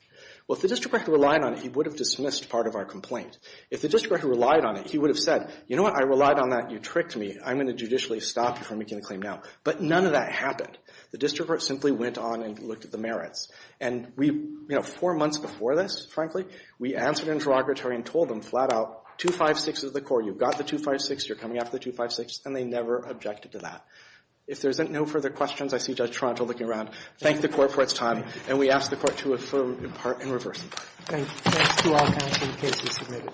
Well, if the district court had relied on it, he would have dismissed part of our complaint. If the district court had relied on it, he would have said, you know what, I relied on that. You tricked me. I'm going to judicially stop you from making a claim now. But none of that happened. The district court simply went on and looked at the merits. And we, you know, four months before this, frankly, we answered interrogatory and told them flat out, 256 is the core. You've got the 256. You're coming after the 256. And they never objected to that. If there's no further questions, I see Judge Toronto looking around. Thank the court for its time. And we ask the court to affirm in part and reverse. Thanks. Thanks to all counseling cases submitted.